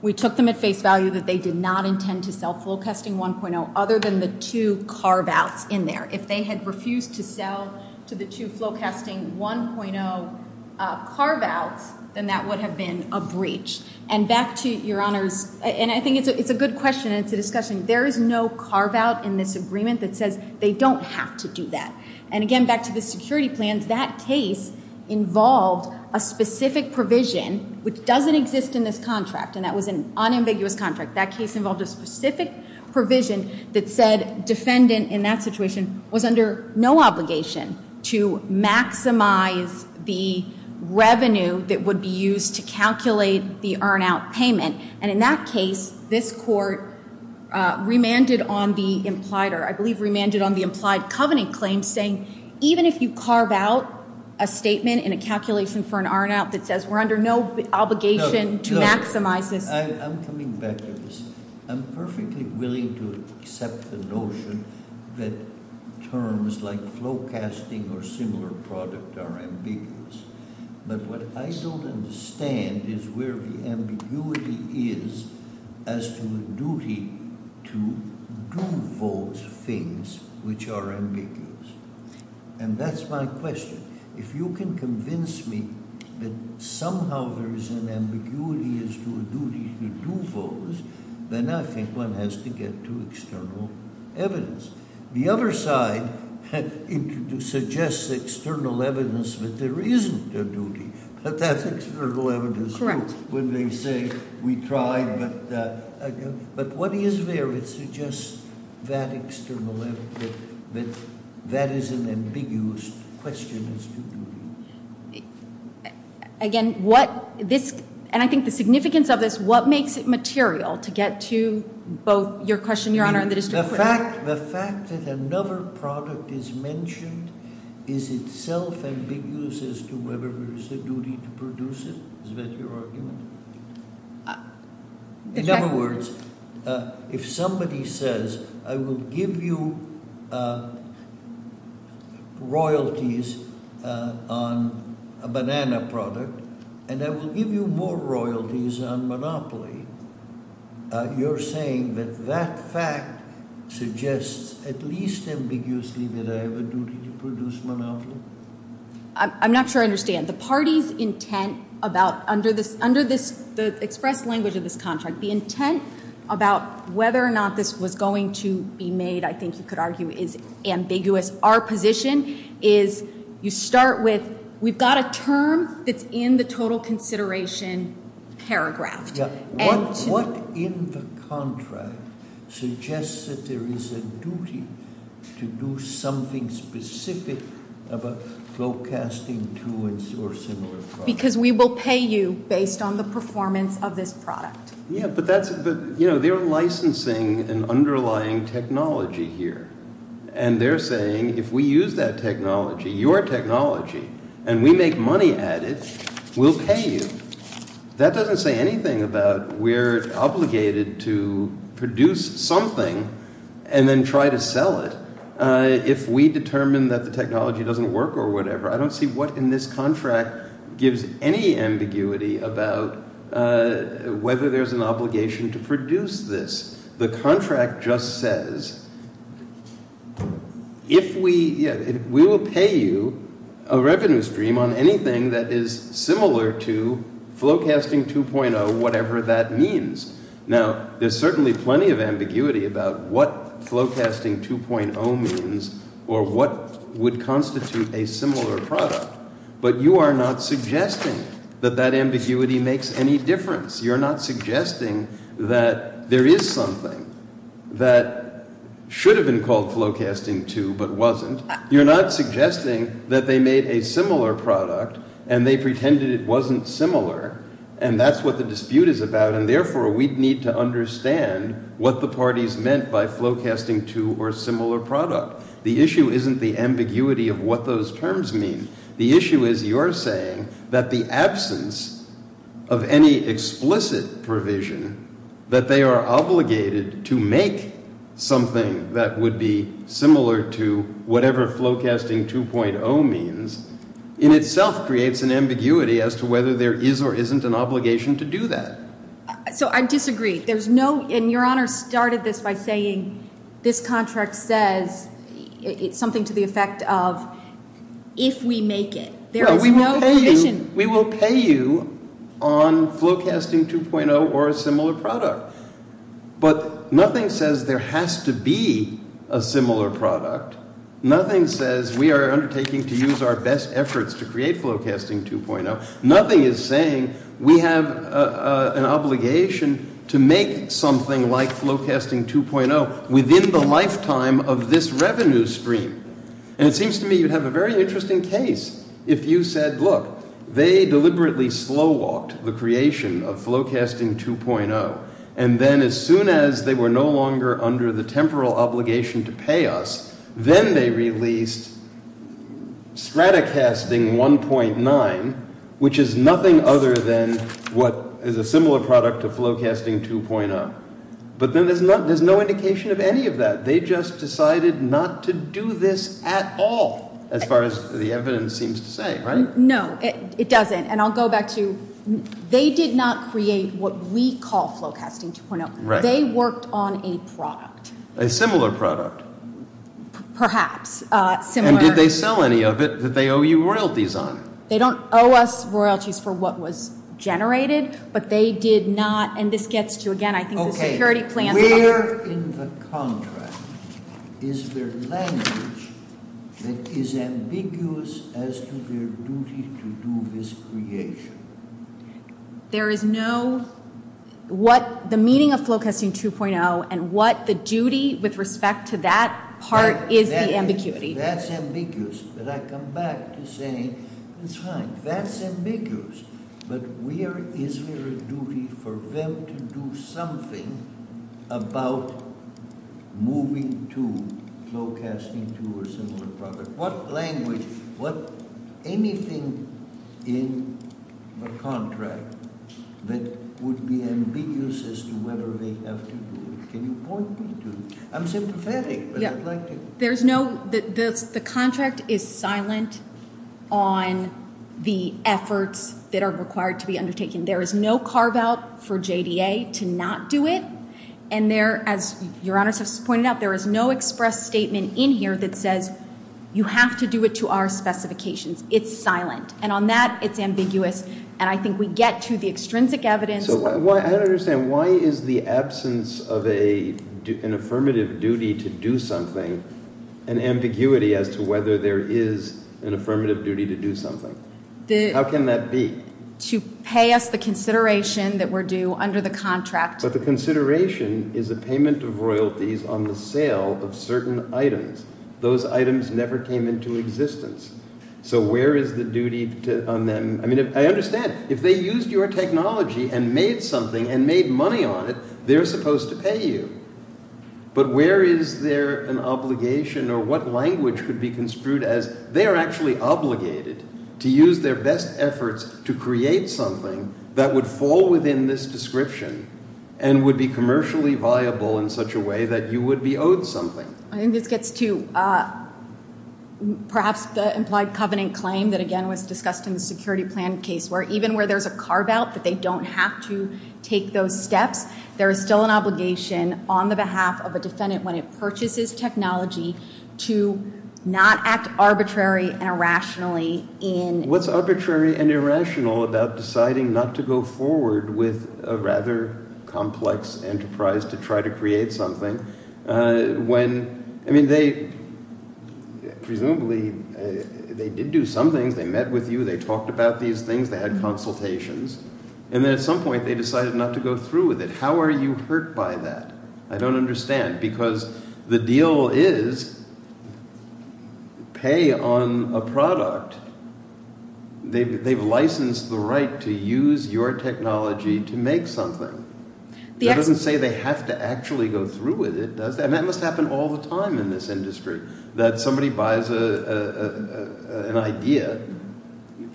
we took them at face value that they did not intend to sell Flowcasting 1.0 other than the two carve-outs in there If they had refused to sell to the two Flowcasting 1.0 carve-outs then that would have been a breach and back to your honors and I think it's a good question and it's a discussion there is no carve-out in this agreement that says they don't have to do that and again back to the security plans and that case involved a specific provision which doesn't exist in this contract and that was an unambiguous contract that case involved a specific provision that said defendant in that situation was under no obligation to maximize the revenue that would be used to calculate the earn-out payment and in that case this court remanded on the implied covenant claim even if you carve-out a statement in a calculation for an earn-out that says we're under no obligation to maximize I'm coming back to this I'm perfectly willing to accept the notion that terms like Flowcasting or similar products are ambiguous but what I still understand is where the ambiguity is as to the duty to do those things which are ambiguous and that's my question if you can convince me that somehow there is an ambiguity as to a duty to do those then I think one has to get to external evidence the other side suggests external evidence that there isn't a duty but that's external evidence when they say we tried but what is there that suggests that external evidence that that is an ambiguous question again what and I think the significance of this what makes it material to get to your question the fact that another product is mentioned is itself ambiguous as to whether there is a duty to produce it in other words if somebody says I will give you royalties on a banana product and I will give you more royalties on Monopoly you're saying that that fact suggests at least ambiguously that I have a duty to produce Monopoly I'm not sure I understand the party's intent under the express language of this contract the intent about whether or not this was going to be made I think you could argue is ambiguous our position is you start with we've got a term that's in the total consideration paragraph what in the contract suggests that there is a duty to do something specific about forecasting to and sourcing because we will pay you based on the performance of this product they're licensing an underlying technology here and they're saying if we use that technology your technology and we make money at it we'll pay you that doesn't say anything about we're obligated to produce something and then try to sell it if we determine that the technology doesn't work I don't see what in this contract gives any ambiguity about whether there's an obligation to produce this the contract just says if we pay you a revenue stream on anything that is similar to Flowcasting 2.0 whatever that means now there's certainly plenty of ambiguity about what Flowcasting 2.0 means or what would constitute a similar product but you are not suggesting that that ambiguity makes any difference you're not suggesting that there is something that should have been called Flowcasting 2.0 but wasn't you're not suggesting that they made a similar product and they pretended it wasn't similar and that's what the dispute is about and therefore we need to understand what the parties meant by Flowcasting 2.0 or similar product the issue isn't the ambiguity of what those terms mean, the issue is you're saying that the absence of any explicit provision that they are obligated to make something that would be similar to whatever Flowcasting 2.0 means in itself creates an ambiguity as to whether there is or isn't an obligation to do that so I disagree, there's no your honor started this by saying this contract says something to the effect of if we make it we will pay you on Flowcasting 2.0 or a similar product but nothing says there has to be a similar product nothing says we are undertaking to use our best efforts to create Flowcasting 2.0, nothing is saying we have an obligation to make something like Flowcasting 2.0 within the lifetime of this revenue stream and it seems to me you have a very interesting case if you said look, they deliberately slow walked the creation of Flowcasting 2.0 and then as soon as they were no longer under the temporal obligation to pay us then they released Stratocasting 1.9 which is nothing other than what is a similar product to Flowcasting 2.0 but there's no indication of any of that they just decided not to do this at all as far as the evidence seems to say no, it doesn't and I'll go back to they did not create what we call Flowcasting 2.0 they worked on a product a similar product perhaps and did they sell any of it that they owe you royalties on? they don't owe us royalties for what was generated but they did not and this gets to again I think the security plan where in the contract is the language that is ambiguous as to their duty to do this creation there is no what the meaning of Flowcasting 2.0 and what the duty with respect to that part is the ambiguity that's ambiguous but I come back to say that's ambiguous but where is there a duty for them to do something about moving to Flowcasting 2.0 what language anything in the contract that would be ambiguous as to whether they have to do it can you point me to it? there is no the contract is silent on the efforts that are required to be undertaken there is no carve out for JDA to not do it there is no express statement in here that says you have to do it to our specifications it's silent and on that it's ambiguous and I think we get to the extrinsic evidence why is the absence of an affirmative duty to do something an ambiguity as to whether there is an affirmative duty to do something how can that be? to pay us the consideration that we're due under the contract but the consideration is the payment of royalties on the sale of certain items, those items never came into existence so where is the duty on them I understand, if they used your technology and made something and made money on it they're supposed to pay you but where is there an obligation or what language would be construed as they're actually obligated to use their best efforts to create something that would fall within this description and would be commercially viable in such a way that you would be owed something I think this gets to perhaps the implied covenant claim that again was discussed in the security plan case where even where there's a carve out that they don't have to take those steps there's still an obligation on the behalf of the defendant when it purchases technology to not act arbitrary and irrationally what's arbitrary and irrational about deciding not to go forward with a rather complex enterprise to try to create something when presumably they did do something they met with you, they talked about these things they had consultations and at some point they decided not to go through with it how are you hurt by that I don't understand because the deal is pay on a product they've licensed the right to use your technology to make something that doesn't say they have to actually go through with it and that must happen all the time in this industry that somebody buys an idea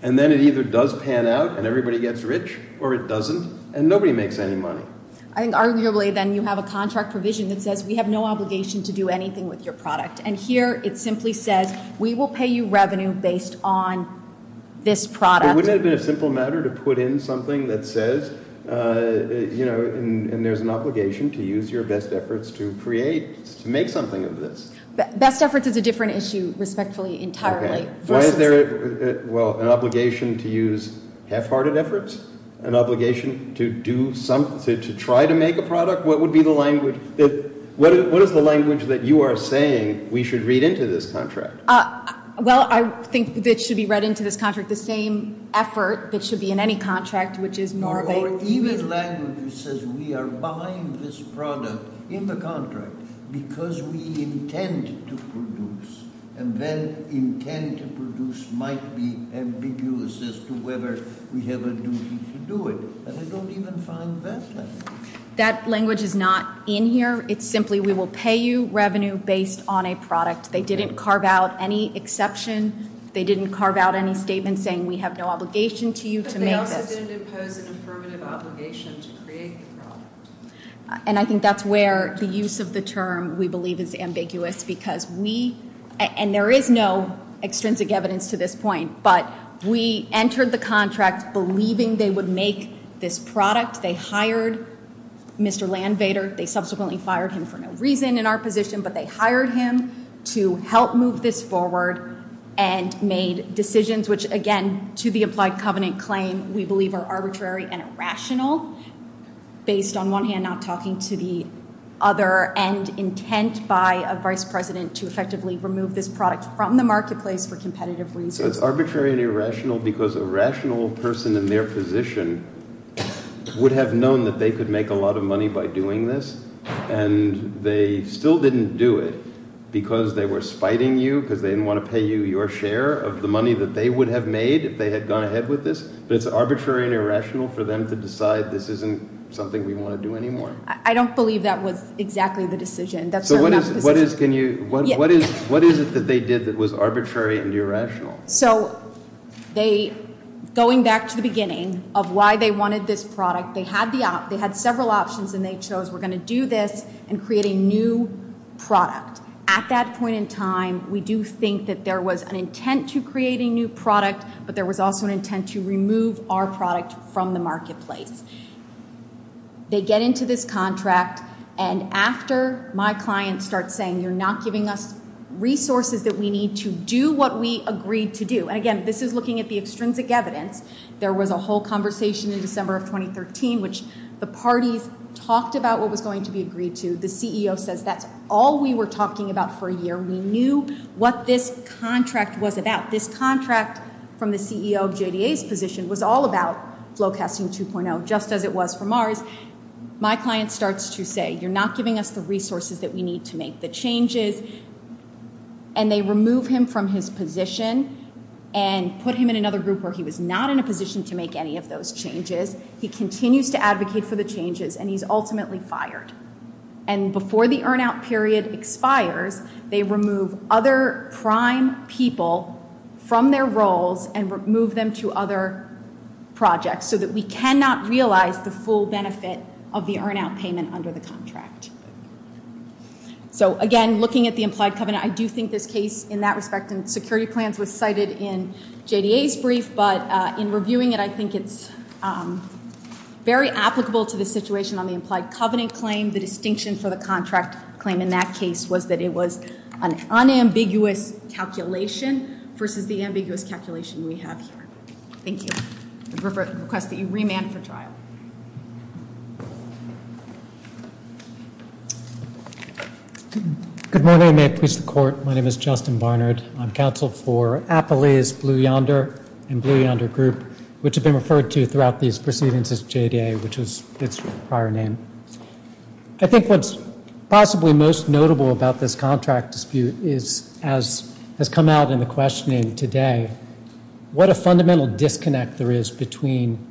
and then it either does pan out and everybody gets rich or it doesn't and nobody makes any money and arguably then you have a contract provision that says we have no obligation to do anything with your product and here it simply says we will pay you revenue based on this product but wouldn't it be a simple matter to put in something that says you know and there's an obligation to use your best efforts to create make something of this best efforts is a different issue respectfully entirely well an obligation to use half hearted efforts an obligation to do something to try to make a product what is the language that you are saying we should read into this contract well I think it should be read into this contract the same effort that should be in any contract even language that says we are buying this product in the contract because we intend to produce and then intend to produce might be ambiguous as to whether we have a duty to do it and I don't even find that language that language is not in here it's simply we will pay you revenue based on a product they didn't carve out any exception they didn't carve out any statement saying we have no obligation to you to make it affirmative obligations and I think that's where the use of the term we believe is ambiguous because we and there is no extrinsic evidence to this point but we entered the contract believing they would make this product they hired Mr. Landvater they subsequently fired him for no reason in our position but they hired him to help move this forward and made decisions which again to the applied covenant claim we believe are based on one hand not talking to the other and intent by a vice president to effectively remove this product from the marketplace for competitive reasons. It's arbitrary and irrational because a rational person in their position would have known that they could make a lot of money by doing this and they still didn't do it because they were spiting you because they didn't want to pay you your share of the money that they would have made if they had gone ahead with this but it's arbitrary and something we don't want to do anymore. I don't believe that was exactly the decision. What is it that they did that was arbitrary and irrational? Going back to the beginning of why they wanted this product they had several options and they chose we're going to do this and create a new product at that point in time we do think that there was an intent to create a new product but there was also an intent to remove our product from the marketplace. They get into this contract and after my client starts saying you're not giving us resources that we need to do what we agreed to do and again this is looking at the extrinsic evidence there was a whole conversation in December of 2013 which the parties talked about what was going to be agreed to the CEO says that's all we were talking about for a year. We knew what this contract was about. This contract from the CEO of JDA's position was all about Flowcasting 2.0 just as it was for Mars. My client starts to say you're not giving us the resources that we need to make the changes and they remove him from his position and put him in another group where he was not in a position to make any of those changes. He continues to advocate for the changes and he's ultimately fired and before the earn out period expires they remove other prime people from their roles and move them to other projects so that we cannot realize the full benefit of the earn out payment under the contract. So again looking at the implied covenant I do think this case in that respect in security plans was cited in JDA's brief but in reviewing it I think it's very applicable to the situation on the implied covenant claim. The distinction for the contract claim in that case was that it was an unambiguous calculation versus the ambiguous calculation we have here. Thank you. I request that you remand for trial. Good morning. May I please report. My name is Justin Barnard. I'm counsel for Appalachia's Blue Yonder and Blue Yonder group which have been referred to throughout these proceedings as JDA which is its prior name. I think what's possibly most notable about this contract dispute has come out in the questioning today what a fundamental disconnect there is between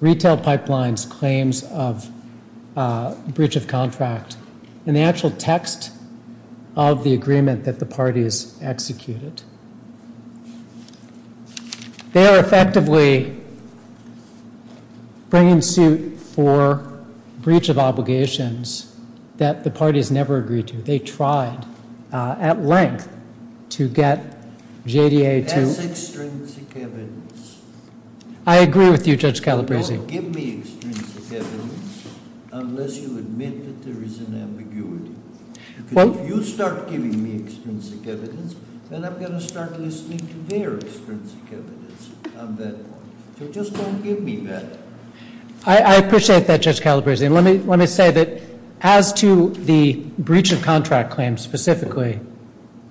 retail pipelines claims of breach of contract and the actual text of the agreement that the parties executed. They are effectively bringing suit for breach of obligations that the parties never agreed to. They tried at length to get JDA to I agree with you Judge Calabresi. I appreciate that Judge Calabresi. Let me say that as to the breach of contract claims specifically,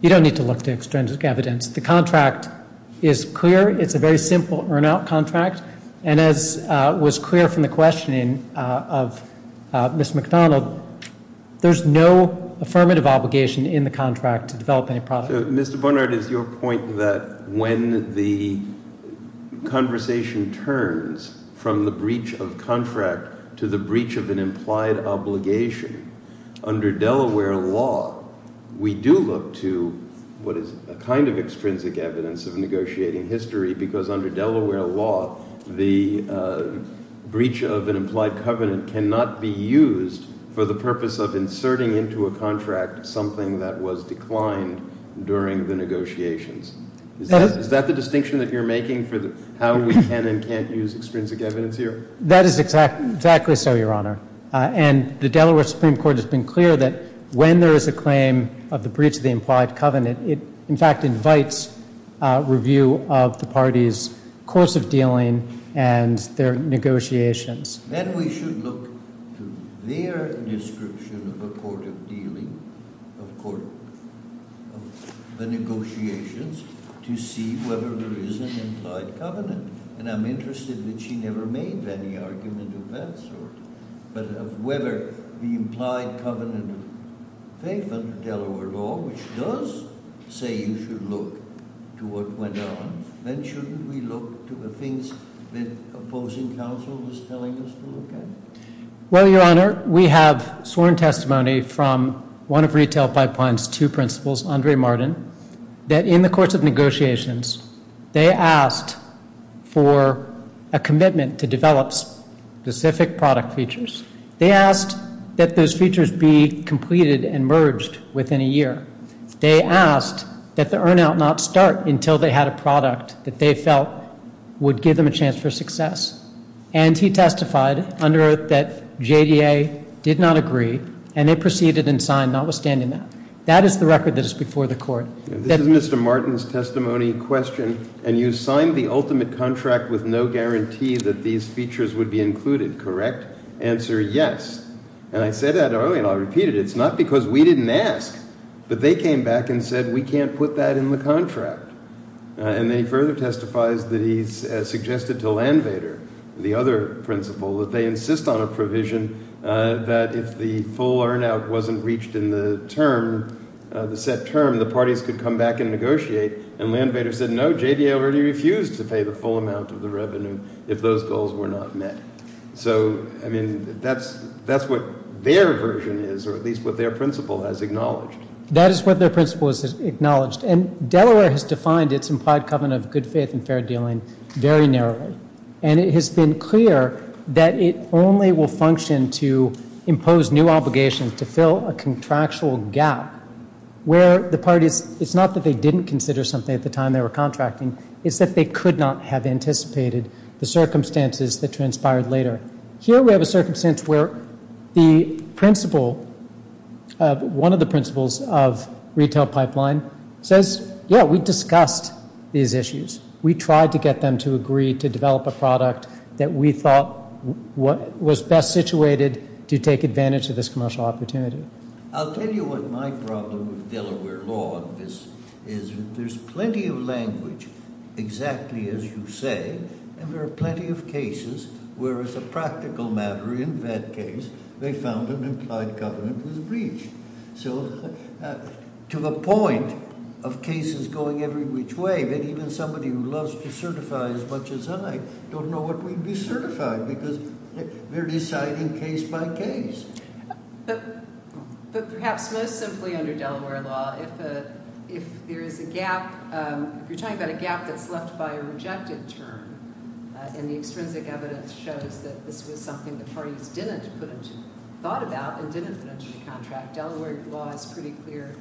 you don't need to look to extrinsic evidence. The contract is clear. It's a very simple earn out contract and as was clear from the questioning of Ms. McDonald there's no affirmative obligation in the contract to develop any product. Mr. Barnard, it's your point that when the conversation turns from the breach of contract to the breach of an implied obligation under Delaware law we do look to what is a kind of extrinsic evidence of negotiating history because under Delaware law the breach of an implied covenant cannot be used for the purpose of inserting into a contract something that was declined during the negotiations. Is that the distinction that you're making for how we can and can't use extrinsic evidence here? That is exactly so, your honor. And the Delaware Supreme Court has been clear that when there is a claim of the breach of the implied covenant it in fact invites review of the party's course of dealing and their negotiations. Then we should look to their description of the court of dealing according to the negotiations to see whether there is an implied covenant and I'm interested that she never made any argument of that sort but of whether the implied covenant of Delaware law, which does say you should look to what went on, then shouldn't we look to the things that opposing counsel was telling us to look at? Well, your honor we have sworn testimony from one of Retail Pipeline's two principals, Andre Martin that in the course of negotiations they asked for a commitment to develop specific product features. They asked that those features be completed and merged within a year. They asked that the earn out not start until they had a product that they felt would give them a chance for success. And he testified under it that JDA did not agree and they proceeded and signed notwithstanding that. That is the record that is before the court. This is Mr. Martin's testimony question. And you signed the ultimate contract with no guarantee that these features would be included, correct? Answer is yes. And I said that earlier and I repeated it. It's not because we didn't ask. But they came back and said we can't put that in the contract. And then he further testifies that he suggested to Landvater, the other principal, that they insist on a provision that if the full earn out wasn't reached in the term the set term, the parties could come back and negotiate. And Landvater said no, JDA refused to pay the full amount of the revenue if those goals were not met. So that's what their version is, or at least what their principal has acknowledged. That is what their principal has acknowledged. And Delaware has defined its implied covenant of good faith and fair dealing very narrowly. And it has been clear that it only will function to impose new obligations to the parties. It's not that they didn't consider something at the time they were contracting. It's that they could not have anticipated the circumstances that transpired later. Here we have a circumstance where the principal one of the principals of retail pipeline says, yeah, we discussed these issues. We tried to get them to agree to develop a product that we thought was best situated to take advantage of this commercial opportunity. I'll tell you what my problem with Delaware law is. There's plenty of language exactly as you say and there are plenty of cases where it's a practical matter in that case they found an implied covenant was reached. So to a point of cases going every which way that even somebody who loves to certify as much as I don't know what we'd be certifying because they're deciding case by case. But perhaps most simply under Delaware law if there's a gap, you're talking about a gap that's left by a rejected term and the extrinsic evidence shows that this was something the parties didn't think about in the contract. Delaware law is pretty clear.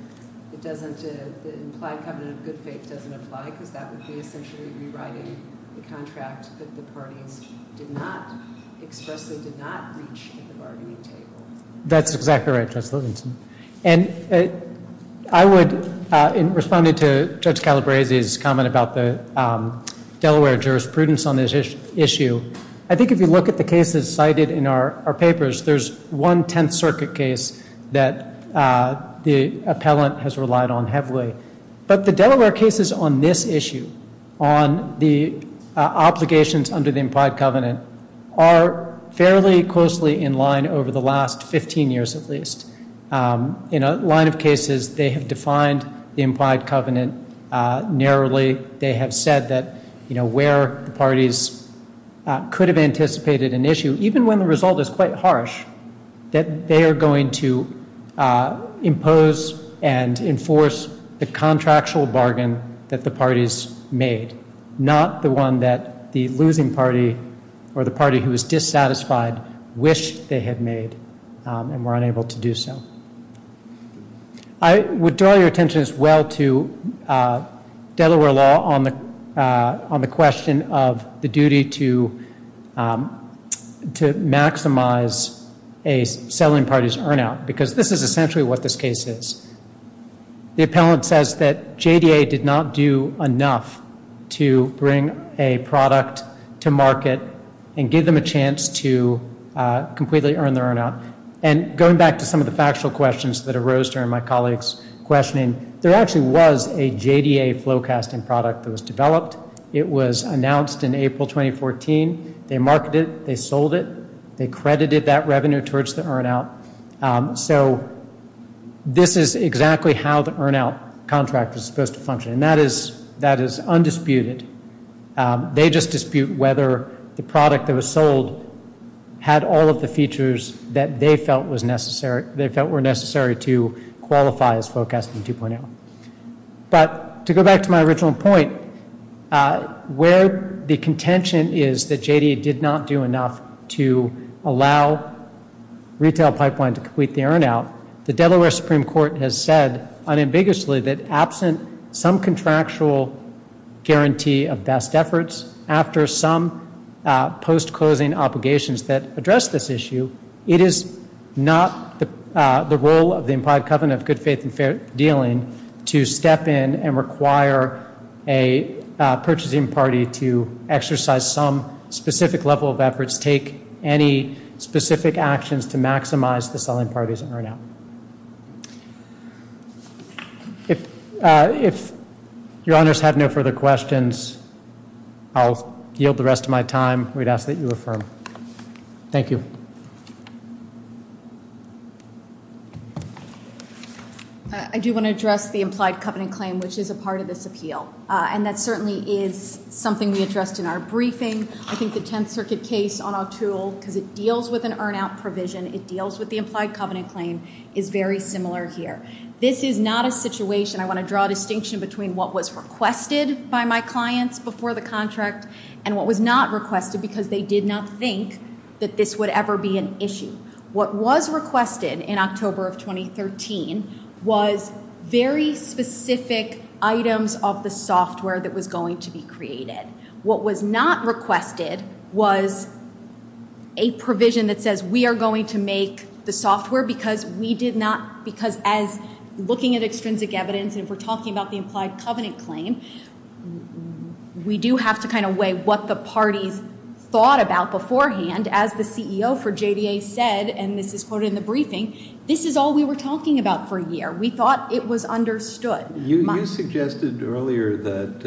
The implied covenant of good faith doesn't apply because that would be essentially rewriting the contract that the judge did not reach in the argument. That's exactly right. And I would, in responding to Judge Calabresi's comment about the Delaware jurisprudence on this issue, I think if you look at the cases cited in our papers, there's one 10th circuit case that the appellant has relied on heavily. But the Delaware cases on this issue, on the obligations under the implied covenant, are fairly closely in line over the last 15 years at least. In a line of cases, they have defined the implied covenant narrowly. They have said that where the parties could have anticipated an issue, even when the result is quite harsh, that they are going to impose and enforce the contractual bargain that the parties made, not the one that the losing party or the party who was dissatisfied wished they had made and were unable to do so. I would draw your attention as well to Delaware law on the question of the duty to maximize a settling party's earn out because this is essentially what this case is. The appellant says that JDA did not do enough to bring a product to market and give them a chance to completely earn their earn out. Going back to some of the factual questions that arose during my colleague's questioning, there actually was a JDA flowcasting product that was developed. It was announced in April 2014. They marketed it. They sold it. They credited that revenue towards the earn out. This is exactly how the earn out contract was supposed to function. That is undisputed. They just dispute whether the product that was sold had all of the features that they felt were necessary to qualify as flowcasting 2.0. To go back to my original point, where the contention is that JDA did not do enough to allow retail pipeline to complete the earn out, the Delaware Supreme Court has said unambiguously that absent some contractual guarantee of best efforts, after some post-closing obligations that address this issue, it is not the role of the implied covenant of good faith and fair dealing to step in and require a purchasing party to exercise some specific level of efforts, take any specific actions to maximize the selling parties' earn out. If your honors have no further questions, I'll yield the rest of my time. We'd ask that you affirm. Thank you. I do want to address the implied covenant claim, which is a part of this appeal. And that certainly is something we addressed in our briefing. I think the Tenth Circuit case on our tools, because it deals with an earn out provision, it deals with the implied covenant claim, is very similar here. This is not a situation, I want to draw a distinction between what was requested by my clients before the contract and what was not requested because they did not think that this would ever be an issue. What was requested in October of 2013 was very specific items of the software that was going to be created. What was not requested was a provision that says we are going to make the software because we did not, because as looking at extrinsic evidence and we're talking about the implied covenant claim, we do have to kind of weigh what the party thought about beforehand as the CEO for JDA said, and this is quoted in the briefing, this is all we were talking about for a year. We thought it was understood. You suggested earlier that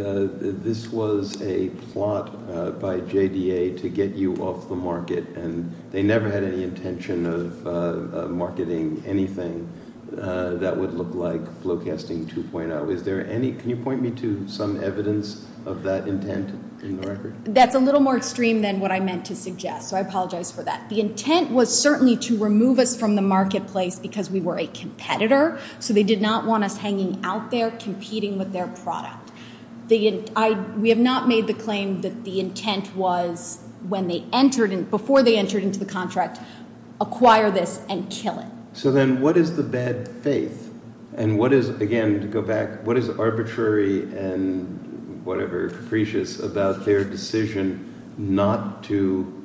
this was a plot by JDA to get you off the market and they never had any intention of marketing anything that would look like broadcasting 2.0. Is there any, can you point me to some evidence of that intent in the record? That's a little more extreme than what I meant to suggest, so I apologize for that. The intent was certainly to remove us from the marketplace because we were a competitor so they did not want us hanging out there competing with their product. We have not made the claim that the intent was when they entered, before they entered into the contract, acquire this and kill it. So then what is the bad faith? And what is again, to go back, what is arbitrary and whatever capricious about their decision not to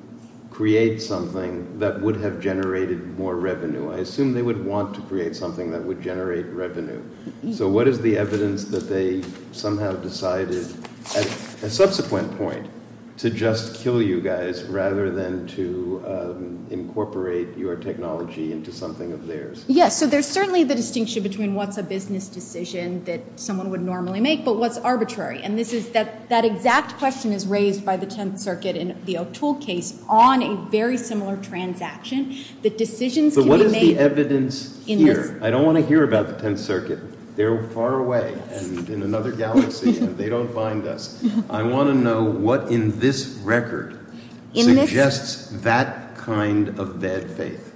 create something that would have generated more revenue? I assume they would want to create something that would generate revenue. So what is the evidence that they somehow decided at a subsequent point to just kill you guys rather than to incorporate your technology into something of theirs? Yes, so there's certainly the distinction between what's a business decision that someone would normally make but what's arbitrary? And this is that exact question is raised by the 10th Circuit in the O'Toole case on a very similar transaction that decisions can be made... But what is the evidence here? I don't want to hear about the 10th Circuit. They're far away and in another galaxy and they don't find us. I want to know what in this record suggests that kind of bad faith.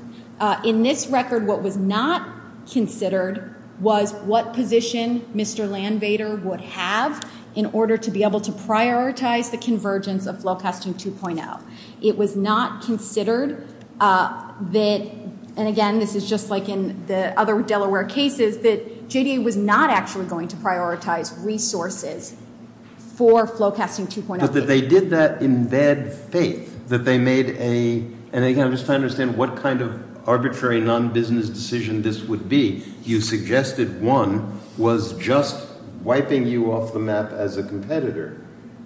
In this record, what was not considered was what position Mr. Landvater would have in order to be able to prioritize the convergence of Flowcast 2.0. It was not considered that, and again this is just like in the other Delaware cases, that JDA was not actually going to for Flowcasting 2.0. But they did that in bad faith that they made a... I'm just trying to understand what kind of arbitrary non-business decision this would be. You suggested one was just wiping you off the map as a competitor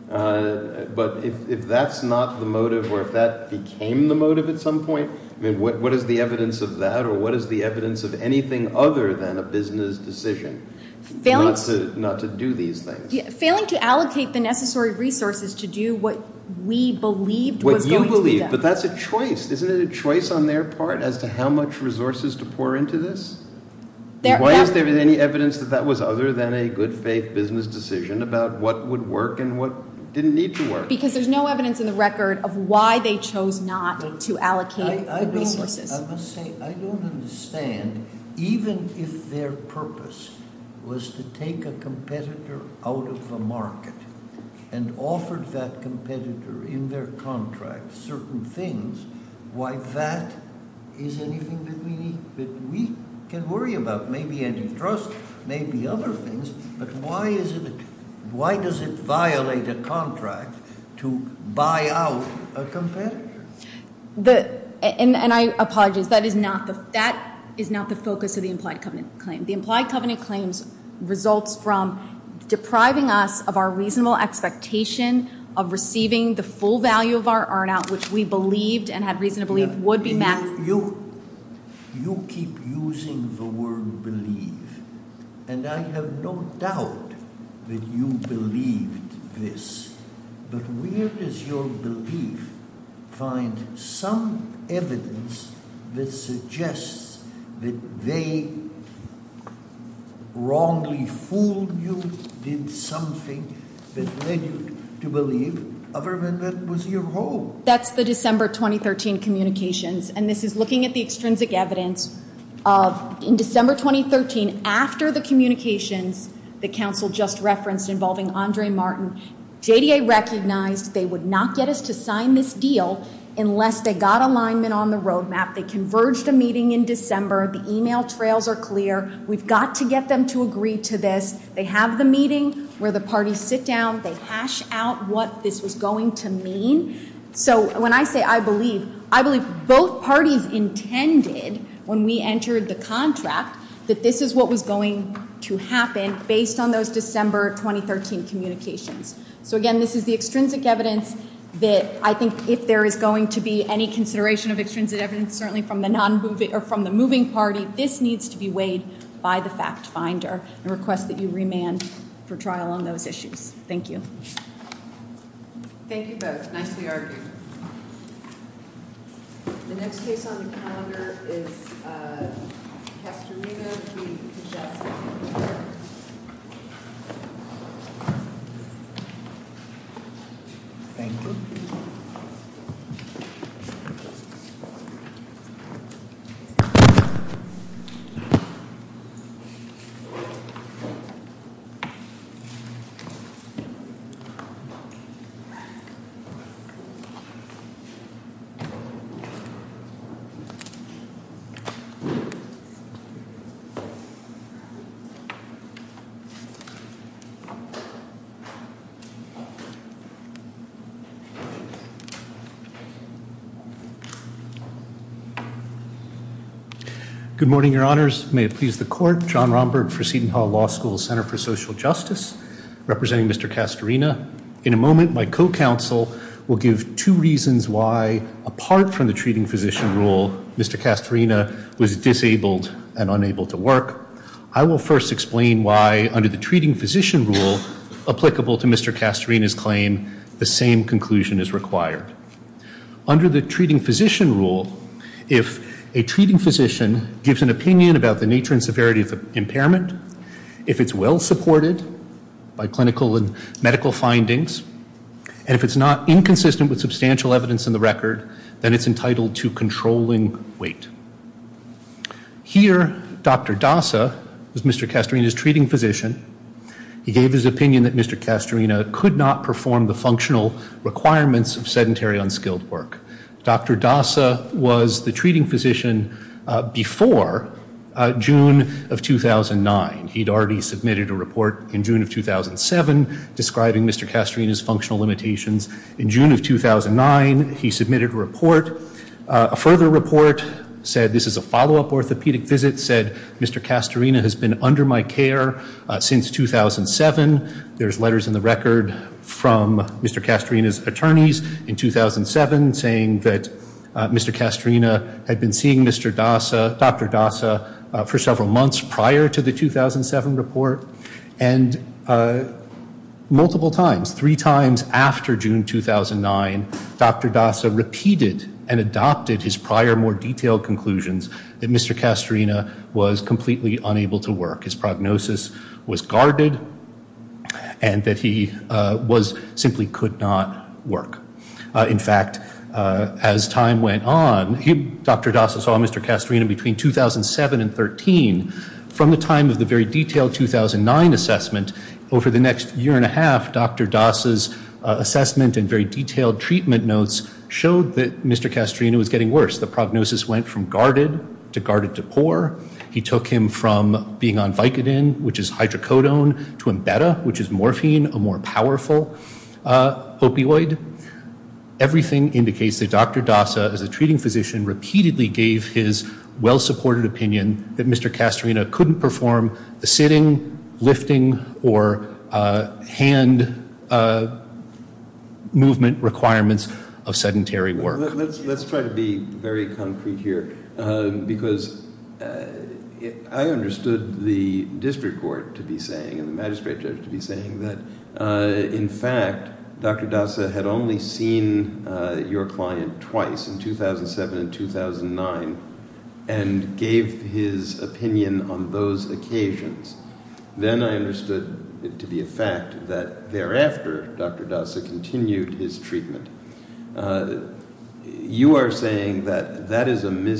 but if that's not the motive or if that became the motive at some point, what is the evidence of that or what is the evidence of anything other than a business decision not to do these things? Failing to allocate the necessary resources to do what we believed was going to happen. But that's a choice. Isn't it a choice on their part as to how much resources to pour into this? Why isn't there any evidence that that was other than a good faith business decision about what would work and what didn't need to work? Because there's no evidence in the record of why they chose not to allocate... I don't understand even if their purpose was to take a competitor out of the market and offered that competitor in their contract certain things, why that is anything that we can worry about? Maybe antitrust, maybe other things but why is it... why does it violate a contract to buy out a competitor? And I apologize, that is not the focus of the implied covenant claims results from depriving us of our reasonable expectation of receiving the full value of our earn out which we believed and had reason to believe would be... You keep using the word believe and I have no doubt that you believe this, but where does your belief find some evidence that suggests that they wrongly fooled you, did something that led you to believe government was your home? That's the December 2013 communications and this is looking at the extrinsic evidence of in December 2013 after the communications the council just referenced involving Andre Martin JDA recognized they would not get us to sign this deal unless they got alignment on the date of December, the email trails are clear, we've got to get them to agree to this, they have the meeting where the parties sit down, they hash out what this is going to mean, so when I say I believe, I believe both parties intended when we entered the contract that this is what was going to happen based on those December 2013 communications. So again this is the extrinsic evidence that I think if there is going to be any consideration of extrinsic evidence, certainly from the moving party, this needs to be weighed by the fact finder and request that you remand for trial on those issues. Thank you. Thank you both, nice to be argued. The next case on the calendar is Capturino v. Pacheco. Thank you. Thank you. Good morning, your honors. May it please the court, John Romberg for Seton Hall Law School, Center for Social Justice, representing Mr. Castorina. In a moment, my co-counsel will give two reasons why, apart from the treating position rule, Mr. Castorina was disabled and unable to work. I will first explain why under the treating position rule applicable to Mr. Castorina's claim, the same conclusion is required. Under the treating position rule, if a treating physician gives an opinion about the nature and severity of impairment, if it's well supported by clinical and medical findings, and if it's not inconsistent with substantial evidence in the record, then it's entitled to controlling weight. Here, Dr. Dasa, Mr. Castorina's treating physician, he gave his opinion that Mr. Castorina could not perform the functional requirements of sedentary, unskilled work. Dr. Dasa was the treating physician before June of 2009. He'd already submitted a report in June of 2007 describing Mr. Castorina's functional limitations. In June of 2009, he submitted a report. A further report said this is a follow-up orthopedic visit, said Mr. Castorina has been under my care since 2007. There's letters in the record from Mr. Castorina's attorneys in 2007 saying that Mr. Castorina had been seeing Dr. Dasa for several months prior to the 2007 report, and multiple times, three times after June 2009, Dr. Dasa repeated and adopted his prior, more detailed conclusions that Mr. Castorina was completely unable to work. His prognosis was guarded and that he simply could not work. In fact, as time went on, Dr. Dasa saw Mr. Castorina between 2007 and 2013. From the time of the very detailed 2009 assessment, over the next year and a half, Dr. Dasa's assessment and very detailed treatment notes showed that Mr. Castorina was getting worse. The prognosis went from guarded to guarded to poor. He took him from being on Vicodin, which is hydrocodone, to Embedda, which is morphine, a more powerful opioid. Everything indicates that Dr. Dasa, as a treating physician, repeatedly gave his well-supported opinion that Mr. Castorina couldn't perform the sitting, lifting, or hand movement requirements of sedentary work. Let's try to be very concrete here because I understood the district court to be saying and the magistrate judge to be saying that in fact, Dr. Dasa had only seen your client twice, in 2007 and 2009, and gave his opinion on those occasions. Then I understood it to be a fact that thereafter Dr. Dasa continued his treatment. You are saying that that is a myth?